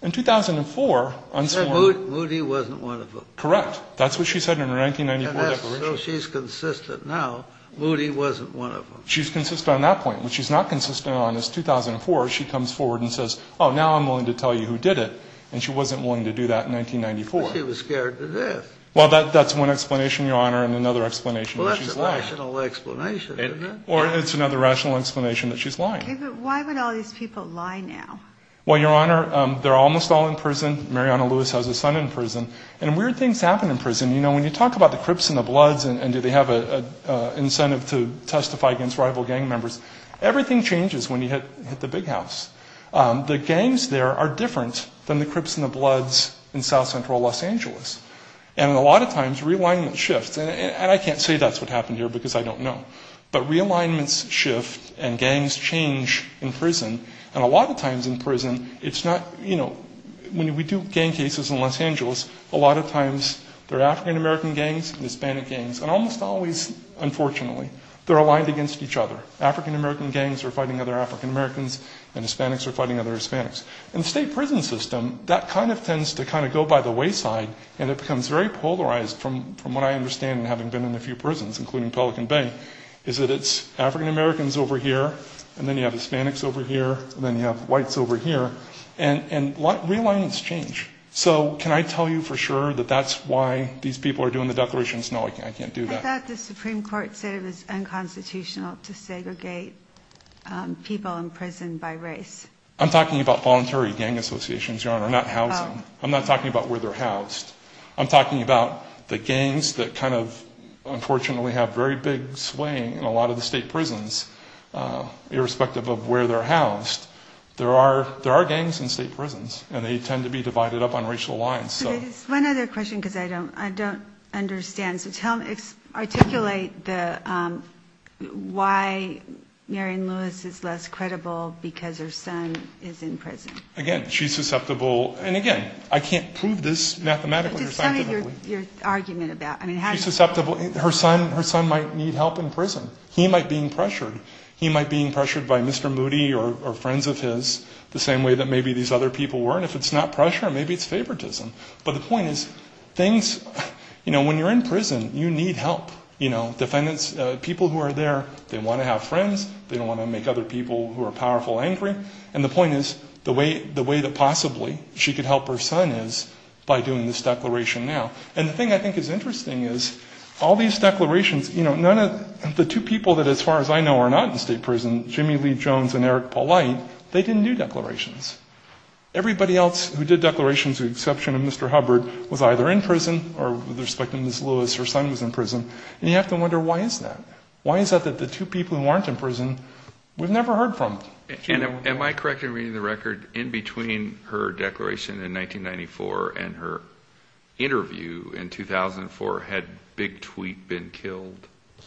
In 2004, unsworn. Say Moody wasn't one of them. Correct. That's what she said in her 1994 testimony. So she's consistent now. Moody wasn't one of them. She's consistent on that point. What she's not consistent on is 2004. She comes forward and says, oh, now I'm willing to tell you who did it. And she wasn't willing to do that in 1994. Because she was scared to death. Well, that's one explanation, Your Honor, and another explanation that she's lying. Well, that's a rational explanation, isn't it? Or it's another rational explanation that she's lying. Why would all these people lie now? Well, Your Honor, they're almost all in prison. Mariana Lewis has a son in prison. And weird things happen in prison. You know, when you talk about the Crips and the Bloods and do they have an incentive to testify against rival gang members, everything changes when you hit the big house. The gangs there are different than the Crips and the Bloods in south-central Los Angeles. And a lot of times realignments shift. And I can't say that's what happened here because I don't know. But realignments shift and gangs change in prison. And a lot of times in prison, it's not, you know, when we do gang cases in Los Angeles, a lot of times they're African-American gangs and Hispanic gangs. And almost always, unfortunately, they're aligned against each other. African-American gangs are fighting other African-Americans and Hispanics are fighting other Hispanics. In the state prison system, that kind of tends to kind of go by the wayside and it becomes very polarized from what I understand having been in a few prisons, including Pelican Bay, is that it's African-Americans over here and then you have Hispanics over here and then you have whites over here. And realignments change. So can I tell you for sure that that's why these people are doing the declarations? No, I can't do that. I thought the Supreme Court said it was unconstitutional to segregate people in prison by race. I'm talking about voluntary gang associations, Your Honor. I'm not talking about where they're housed. I'm talking about the gangs that kind of unfortunately have very big swaying in a lot of the state prisons, irrespective of where they're housed. There are gangs in state prisons and they tend to be divided up on racial lines. One other question because I don't understand. So tell me, articulate why Mary Lewis is less credible because her son is in prison. Again, she's susceptible, and again, I can't prove this mathematically or scientifically. Tell me your argument about it. Her son might need help in prison. He might be pressured. He might be pressured by Mr. Moody or friends of his the same way that maybe these other people were. And if it's not pressure, maybe it's favoritism. But the point is, when you're in prison, you need help. People who are there, they want to have friends. They don't want to make other people who are powerful angry. And the point is, the way that possibly she could help her son is by doing this declaration now. And the thing I think is interesting is all these declarations, the two people that, as far as I know, are not in state prison, Jimmy Lee Jones and Eric Polite, they didn't do declarations. Everybody else who did declarations with the exception of Mr. Hubbard was either in prison or was respecting Ms. Lewis, her son was in prison. And you have to wonder why is that? Why is it that the two people who aren't in prison, we've never heard from? Am I correct in reading the record? In between her declaration in 1994 and her interview in 2004, had Big Tweet been killed?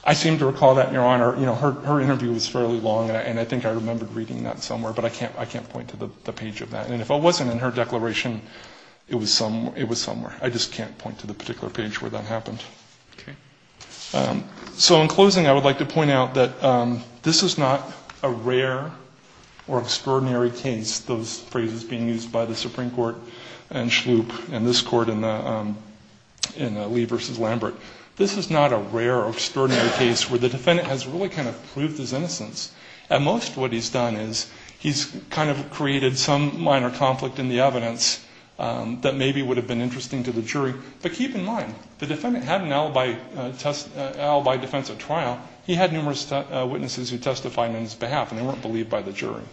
I seem to recall that, Your Honor. Her interview was fairly long, and I think I remember reading that somewhere, but I can't point to the page of that. And if it wasn't in her declaration, it was somewhere. I just can't point to the particular page where that happened. So in closing, I would like to point out that this is not a rare or extraordinary case, those phrases being used by the Supreme Court and Shloop and this court in Lee v. Lambert. This is not a rare or extraordinary case where the defendant has really kind of proved his innocence. At most, what he's done is he's kind of created some minor conflict in the evidence But keep in mind, the defendant had an alibi defense of trial. He had numerous witnesses who testified on his behalf, and they weren't believed by the jury.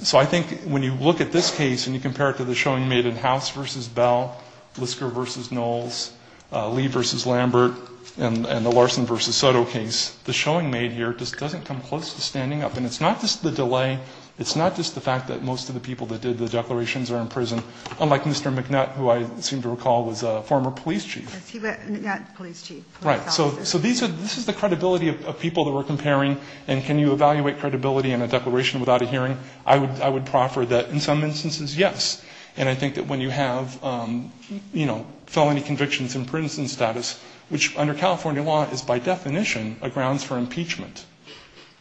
So I think when you look at this case and you compare it to the showing made in House v. Bell, Lister v. Knowles, Lee v. Lambert, and the Larson v. Soto case, the showing made here just doesn't come close to standing up. And it's not just the delay, it's not just the fact that most of the people that did the declarations are in prison. Unlike Mr. McNutt, who I seem to recall was a former police chief. So this is the credibility of people that we're comparing, and can you evaluate credibility in a declaration without a hearing? I would proffer that in some instances, yes. And I think that when you have felony convictions in prison status, which under California law is by definition a grounds for impeachment,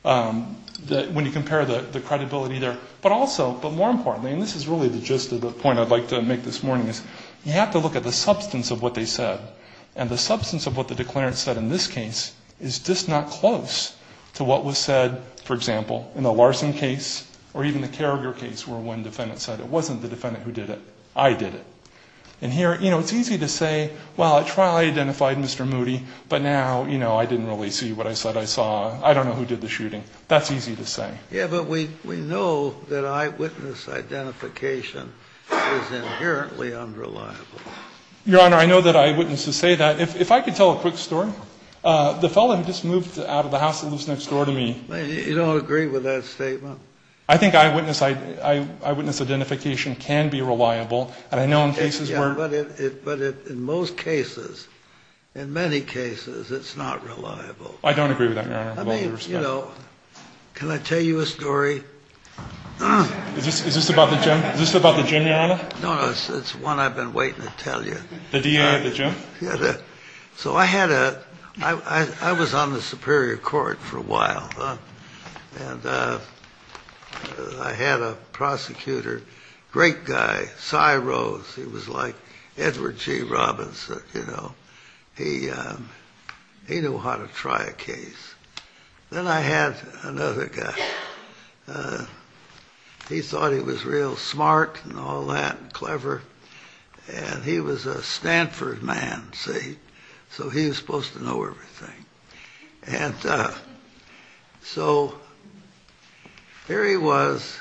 when you compare the credibility there. But also, but more importantly, and this is really the gist of the point I'd like to make this morning, is you have to look at the substance of what they said. And the substance of what the declarants said in this case is just not close to what was said, for example, in the Larson case or even the Carragher case where one defendant said it wasn't the defendant who did it, I did it. And here, you know, it's easy to say, well, I tried and I identified Mr. Moody, but now, you know, I didn't really see what I said I saw. I don't know who did the shooting. That's easy to say. Yeah, but we know that eyewitness identification is inherently unreliable. Your Honor, I know that eyewitnesses say that. If I could tell a quick story. The felon just moved out of the house that was next door to me. You don't agree with that statement? I think eyewitness identification can be reliable, and I know in cases where… Yeah, but in most cases, in many cases, it's not reliable. I don't agree with that, Your Honor. Can I tell you a story? Is this about the jury, Your Honor? No, it's one I've been waiting to tell you. The jury? So I was on the Superior Court for a while, and I had a prosecutor, great guy, Cy Rose. He was like Edward G. Robinson, you know. He knew how to try a case. Then I had another guy. He thought he was real smart and all that and clever, and he was a Stanford man, see? So he was supposed to know everything. And so here he was,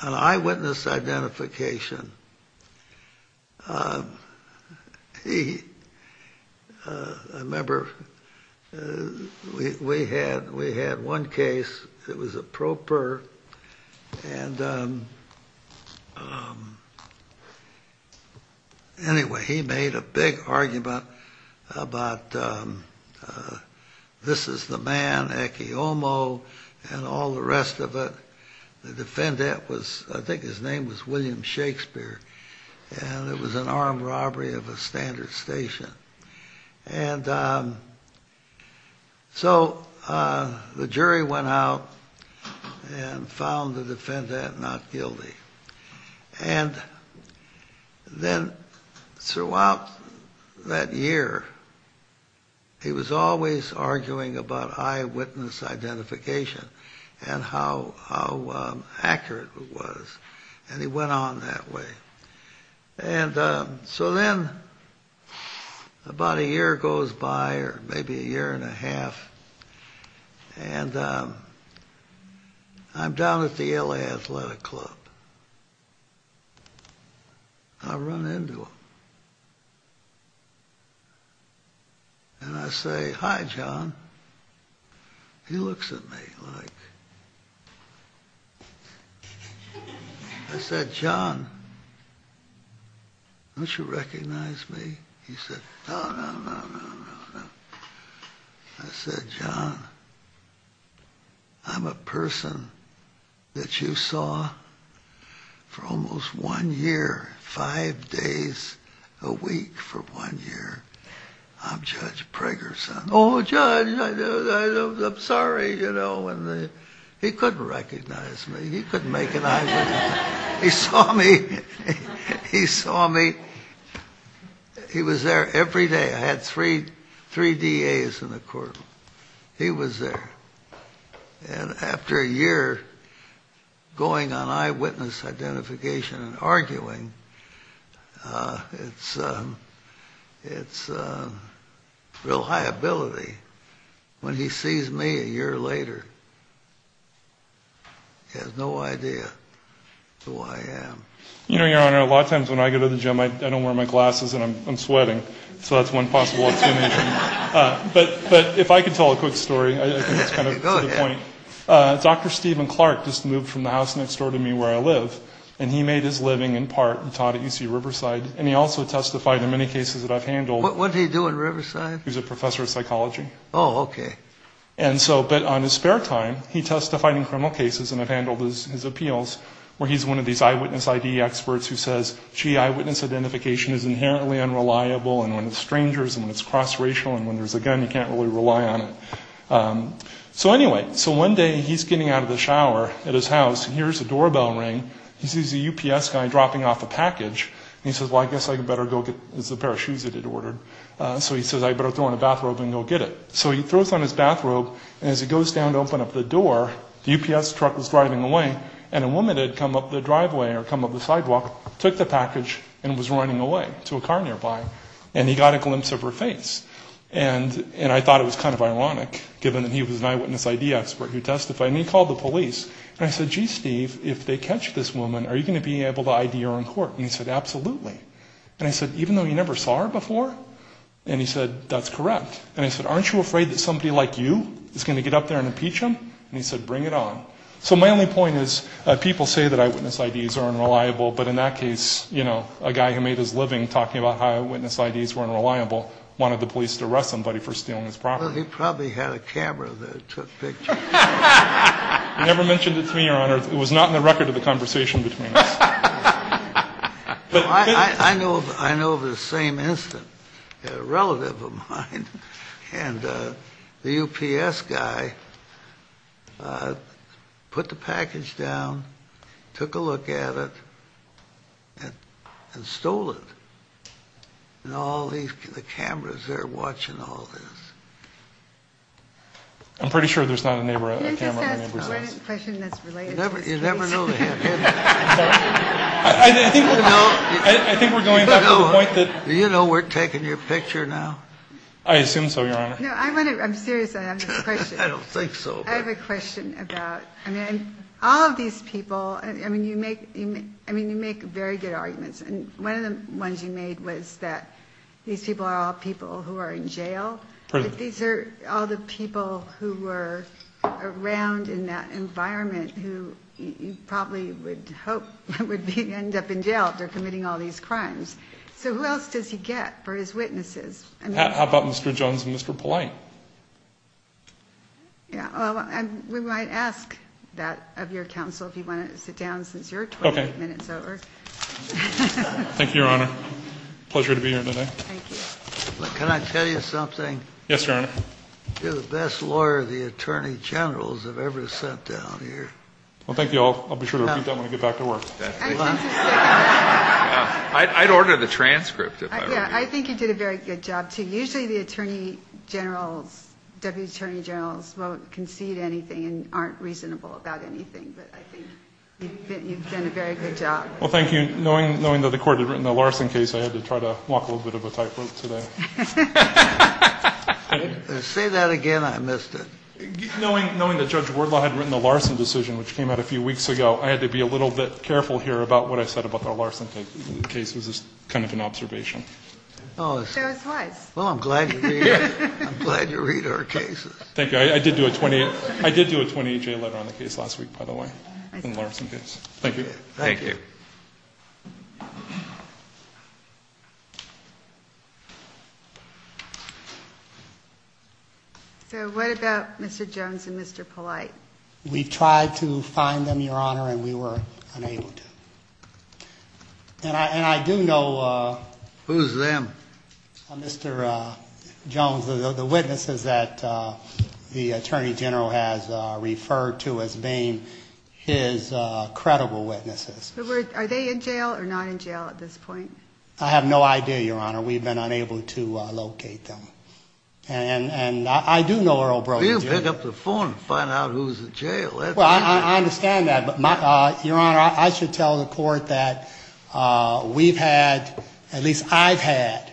an eyewitness identification. I remember we had one case. It was a pro per. Anyway, he made a big argument about this is the man, Eki Omo, and all the rest of it. The defendant was, I think his name was William Shakespeare, and it was an armed robbery of a Standard Station. And so the jury went out and found the defendant not guilty. And then throughout that year, he was always arguing about eyewitness identification and how accurate it was, and he went on that way. And so then about a year goes by, or maybe a year and a half, and I'm down at the L.A. Athletic Club. I run into him. And I say, Hi, John. He looks at me. I'm like, I said, John, don't you recognize me? He said, no, no, no, no, no, no. I said, John, I'm a person that you saw for almost one year, five days a week for one year. I'm Judge Pregerson. He said, oh, Judge, I'm sorry. He couldn't recognize me. He couldn't make it out. He saw me. He saw me. He was there every day. I had three DAs in the courtroom. He was there. And after a year going on eyewitness identification and arguing, it's reliability when he sees me a year later. He has no idea who I am. You know, Your Honor, a lot of times when I go to the gym, I don't wear my glasses and I'm sweating, so that's one possible excuse. But if I could tell a quick story, I think it's kind of a good point. Dr. Stephen Clark just moved from the house next door to me where I live, and he made his living in part and taught at UC Riverside, and he also testified in many cases that I've handled. What did he do at Riverside? He's a professor of psychology. Oh, OK. And so but on his spare time, he testified in criminal cases, and I've handled his appeals where he's one of these eyewitness ID experts who says, gee, eyewitness identification is inherently unreliable, and when it's strangers and it's cross-racial and when there's a gun, you can't really rely on it. So anyway, so one day he's getting out of the shower at his house, and here's the doorbell ring. This is the UPS guy dropping off a package, and he says, well, I guess I'd better go get the pair of shoes that he ordered. So he says, I'd better go in a bathrobe and go get it. So he throws on his bathrobe, and as he goes down to open up the door, the UPS truck is driving away, and a woman had come up the driveway or come up the sidewalk, took the package, and was running away to a car nearby, and he got a glimpse of her face. And I thought it was kind of ironic, given that he was an eyewitness ID expert who testified, and he called the police. And I said, gee, Steve, if they catch this woman, are you going to be able to ID her on court? And he said, absolutely. And I said, even though you never saw her before? And he said, that's correct. And I said, aren't you afraid that somebody like you is going to get up there and impeach him? And he said, bring it on. So my only point is, people say that eyewitness IDs are unreliable, but in that case, a guy who made his living talking about how eyewitness IDs were unreliable wanted the police to arrest somebody for stealing his property. Well, he probably had a camera that took pictures. I never mentioned it to you, Your Honor. It was not in the record of the conversation between us. I know of the same incident. A relative of mine and the UPS guy put the package down, took a look at it, and stole it. And all these cameras, they're watching all this. I'm pretty sure there's not a camera in the recording. I have a question that's related. You never know the answer. I think we're going back to the point that... Do you know we're taking your picture now? I assume so, Your Honor. No, I'm serious. I have a question. I don't think so. I have a question about all of these people. I mean, you make very good arguments. And one of the ones you made was that these people are all people who are in jail. These are all the people who were around in that environment who you probably would hope would end up in jail for committing all these crimes. So who else does he get for his witnesses? How about Mr. Jones and Mr. Polite? We might ask that of your counsel if he wanted to sit down since you're 28 minutes over. Thank you, Your Honor. Pleasure to be here today. Thank you. Can I tell you something? Yes, Your Honor. You're the best lawyer the attorney generals have ever sent down here. Well, thank you. I'll be sure to repeat that when we get back to work. I'd order the transcript of that. Yeah, I think you did a very good job, too. Usually the attorney generals, deputy attorney generals, won't concede anything and aren't reasonable about anything. But I think you've done a very good job. Well, thank you. Knowing that the court had written a Larson case, I had to try to walk a little bit of a tightrope today. Say that again, I missed it. Knowing that Judge Wardlaw had written a Larson decision, which came out a few weeks ago, I had to be a little bit careful here about what I said about the Larson case. This is kind of an observation. Well, I'm glad to be here. I'm glad to read our cases. Thank you. I did do a 28-J letter on the case last week, by the way, on the Larson case. Thank you. Thank you. Sir, what about Mr. Jones and Mr. Polite? We tried to find them, Your Honor, and we were unable to. And I do know... Who's them? Mr. Jones, the witnesses that the Attorney General has referred to as being his credible witnesses. Are they in jail or not in jail at this point? I have no idea, Your Honor. We've been unable to locate them. And I do know... You'll pick up the phone and find out who's in jail. I understand that. Your Honor, I should tell the court that we've had... At least I've had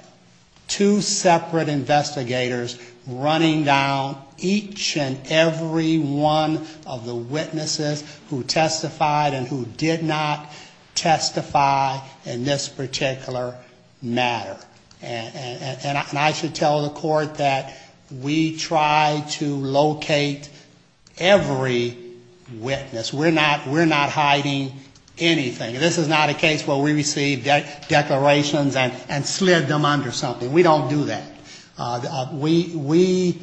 two separate investigators running down each and every one of the witnesses who testified and who did not testify in this particular matter. And I should tell the court that we tried to locate every witness. We're not hiding anything. This is not a case where we received declarations and slid them under something. We don't do that. We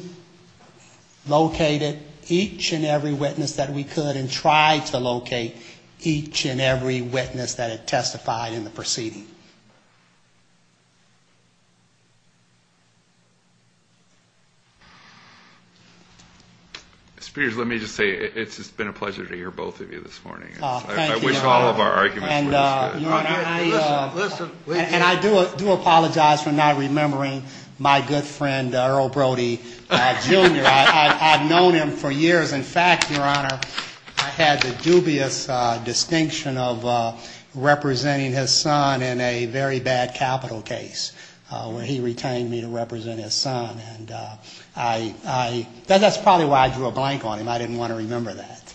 located each and every witness that we could and tried to locate each and every witness that testified in the proceedings. Mr. Peters, let me just say it's been a pleasure to hear both of you this morning. Thank you, Your Honor. I wish all of our arguments were as good. And I do apologize for not remembering my good friend, Earl Brody, Jr. I've known him for years. In fact, Your Honor, I've had the dubious distinction of representing his son in a very bad capital case where he retained me to represent his son. And that's probably why I drew a blank on him. I didn't want to remember that.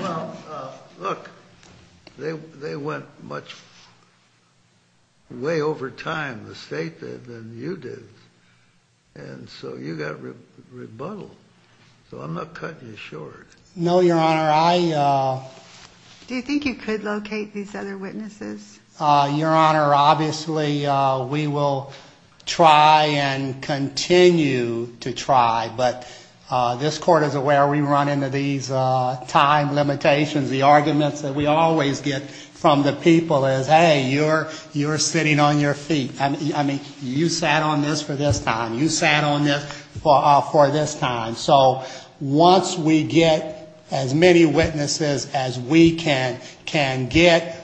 Well, look, they went much way over time, the state did, than you did. And so you got rebuttaled. So I'm not cutting you short. No, Your Honor, I... Do you think you could locate these other witnesses? Your Honor, obviously we will try and continue to try, but this Court is aware we run into these time limitations. The argument that we always get from the people is, hey, you're sitting on your feet. I mean, you sat on this for this time. You sat on this for this time. So once we get as many witnesses as we can get,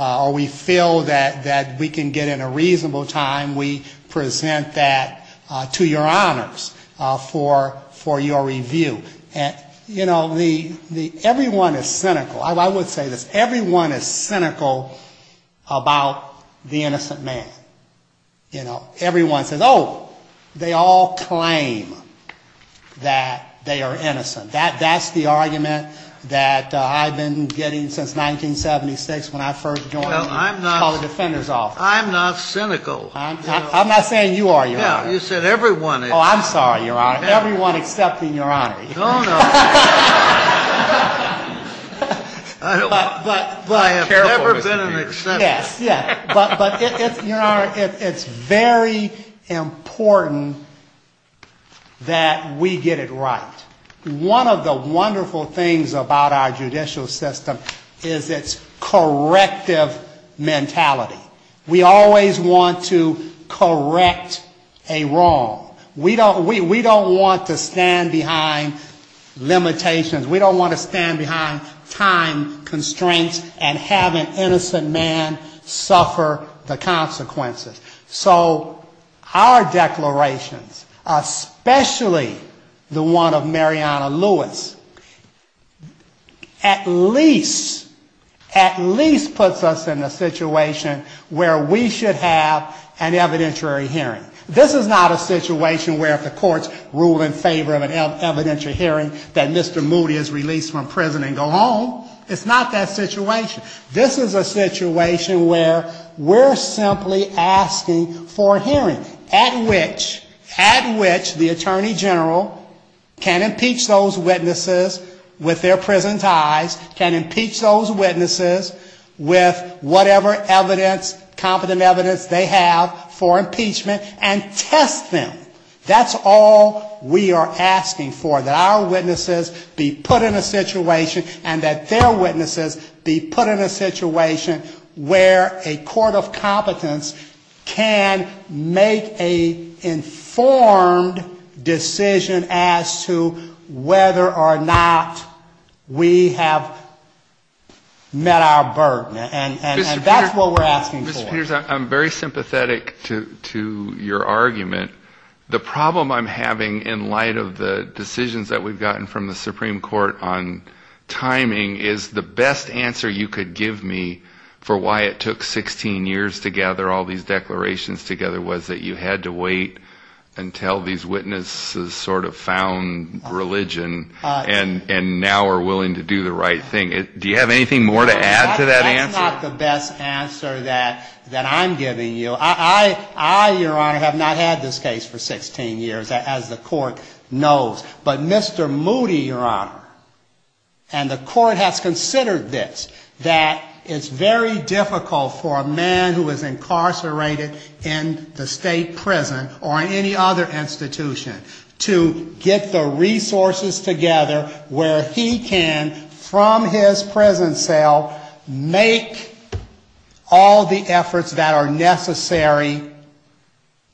or we feel that we can get in a reasonable time, we present that to Your Honors for your review. You know, everyone is cynical. I would say that everyone is cynical about the innocent man. You know, everyone says, oh, they all claim that they are innocent. That's the argument that I've been getting since 1976 when I first joined the Defenders Office. I'm not cynical. I'm not saying you are, Your Honor. No, you said everyone is. Oh, I'm sorry, Your Honor. Everyone excepting Your Honor. No, no. I have never been an exception. Yes, yes, but it's very important that we get it right. One of the wonderful things about our judicial system is its corrective mentality. We always want to correct a wrong. We don't want to stand behind limitations. We don't want to stand behind time constraints and have an innocent man suffer the consequences. So our declarations, especially the one of Mariana Lewis, at least puts us in a situation where we should have an evidentiary hearing. This is not a situation where the courts rule in favor of an evidentiary hearing that Mr. Moody is released from prison and go home. It's not that situation. This is a situation where we're simply asking for a hearing at which the Attorney General can impeach those witnesses with their prison ties, can impeach those witnesses with whatever evidence, whatever evidence they have for impeachment, and test them. That's all we are asking for, that our witnesses be put in a situation and that their witnesses be put in a situation where a court of competence can make an informed decision as to whether or not we have met our burden. And that's what we're asking for. Mr. Peters, I'm very sympathetic to your argument. The problem I'm having in light of the decisions that we've gotten from the Supreme Court on timing is the best answer you could give me for why it took 16 years to gather all these declarations together was that you had to wait until these witnesses sort of found religion and now are willing to do the right thing. Do you have anything more to add to that answer? That's not the best answer that I'm giving you. I, Your Honor, have not had this case for 16 years, as the court knows. But Mr. Moody, Your Honor, and the court has considered this, that it's very difficult for a man who is incarcerated in the state prison or any other institution to get the resources together where he can, from his prison cell, make all the efforts that are necessary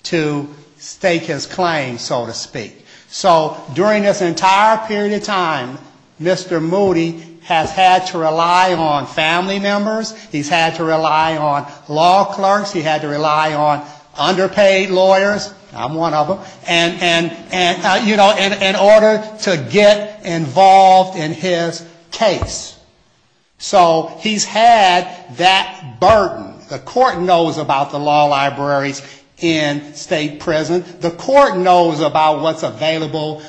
to stake his claim, so to speak. So during this entire period of time, Mr. Moody has had to rely on family members. He's had to rely on law clerks. He's had to rely on underpaid lawyers. I'm one of them. And, you know, in order to get involved in his case. So he's had that burden. The court knows about the law library in state prisons. The court knows about what's available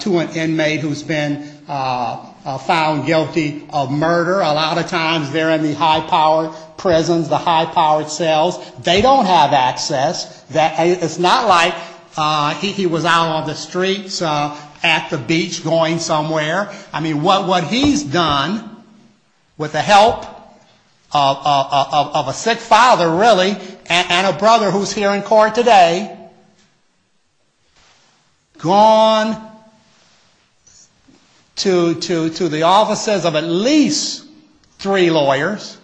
to an inmate who's been found guilty of murder. A lot of times they're in the high-powered prisons, the high-powered cells. They don't have access. It's not like he was out on the streets at the beach going somewhere. I mean, what he's done with the help of a sick father, really, and a brother who's here in court today, gone to the offices of at least three lawyers,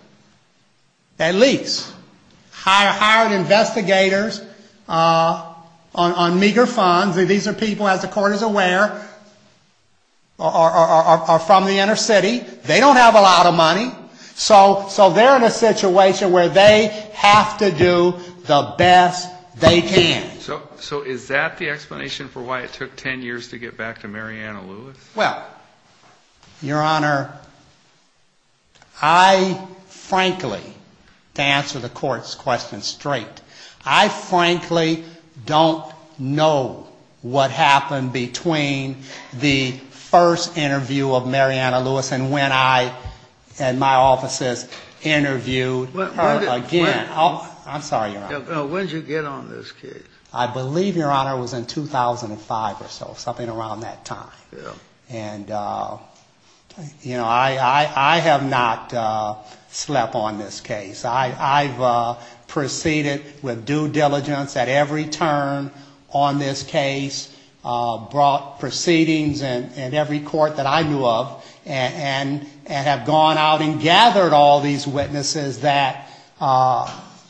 at least, hired investigators on meager funds. These are people, as the court is aware, are from the inner city. They don't have a lot of money. So they're in a situation where they have to do the best they can. So is that the explanation for why it took 10 years to get back to Mariana Lewis? Well, Your Honor, I frankly, to answer the court's question straight, I frankly don't know what happened between the first interview of Mariana Lewis and when I and my offices interviewed her again. I'm sorry, Your Honor. When did you get on this case? I believe, Your Honor, it was in 2005 or so, something around that time. Yeah. And I have not slept on this case. I've proceeded with due diligence at every turn on this case, brought proceedings in every court that I knew of, and have gone out and gathered all these witnesses that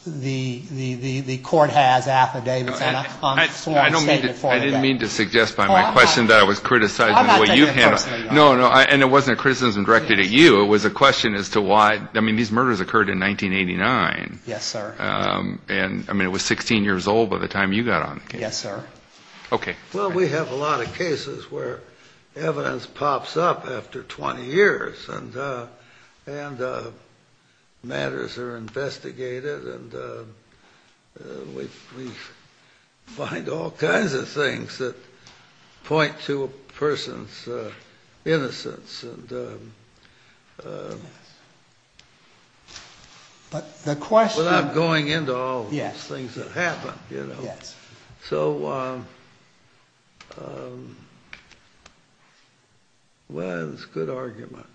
the court has affidavits on. I didn't mean to suggest by my question that I was criticizing the way you handled it. No, no, and it wasn't a criticism directed at you. It was a question as to why, I mean, these murders occurred in 1989. Yes, sir. And, I mean, it was 16 years old by the time you got on the case. Yes, sir. Okay. Well, we have a lot of cases where evidence pops up after 20 years and matters are investigated and we find all kinds of things that point to a person's innocence. But the question— But I'm going into all these things that happened, you know. Yes. So, well, that was a good argument.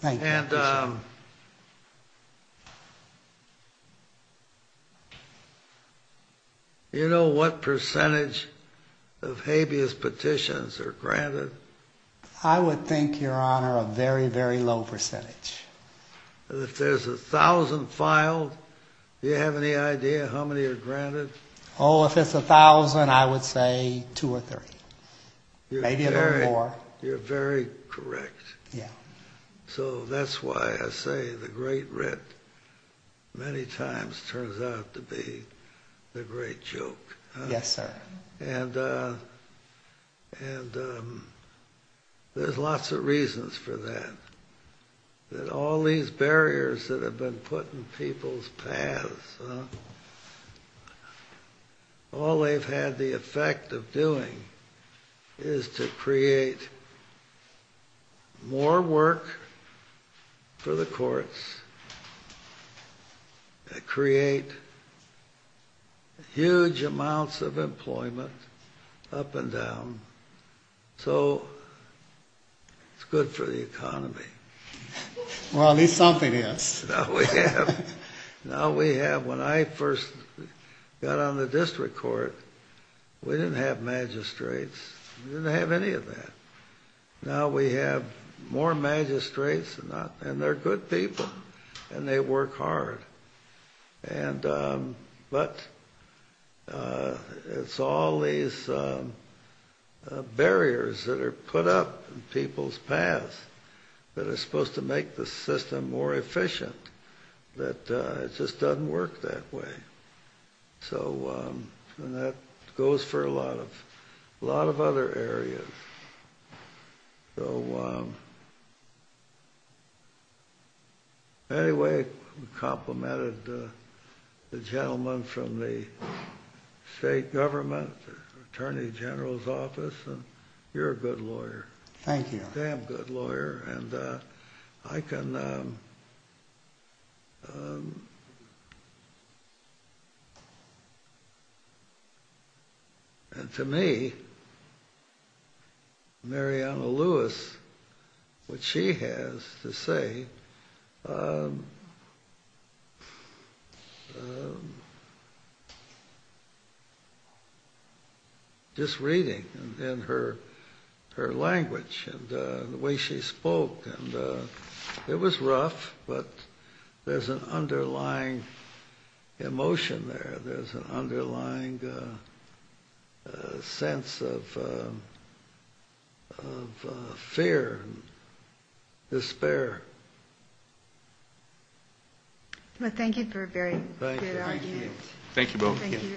Thank you. And you know what percentage of habeas petitions are granted? I would think, Your Honor, a very, very low percentage. If there's 1,000 filed, do you have any idea how many are granted? Oh, if it's 1,000, I would say two or three. Maybe a little more. You're very correct. Yeah. So that's why I say the great writ many times turns out to be the great joke. Yes, sir. And there's lots of reasons for that, that all these barriers that have been put in people's paths, all they've had the effect of doing is to create more work for the courts, that create huge amounts of employment up and down, so it's good for the economy. Well, at least something is. Now we have, when I first got on the district court, we didn't have magistrates. We didn't have any of that. Now we have more magistrates, and they're good people, and they work hard. But it's all these barriers that are put up in people's paths that are supposed to make the system more efficient, but it just doesn't work that way. And that goes for a lot of other areas. Anyway, complimented the gentleman from the state government, attorney general's office, and you're a good lawyer. Thank you. Damn good lawyer. I can... And to me, Mariana Lewis, what she has to say... Just reading, and her language, and the way she spoke, and it was rough, but there's an underlying emotion there. There's an underlying sense of fear, despair. Well, thank you for a very clear argument. Thank you. Thank you both. Thank you.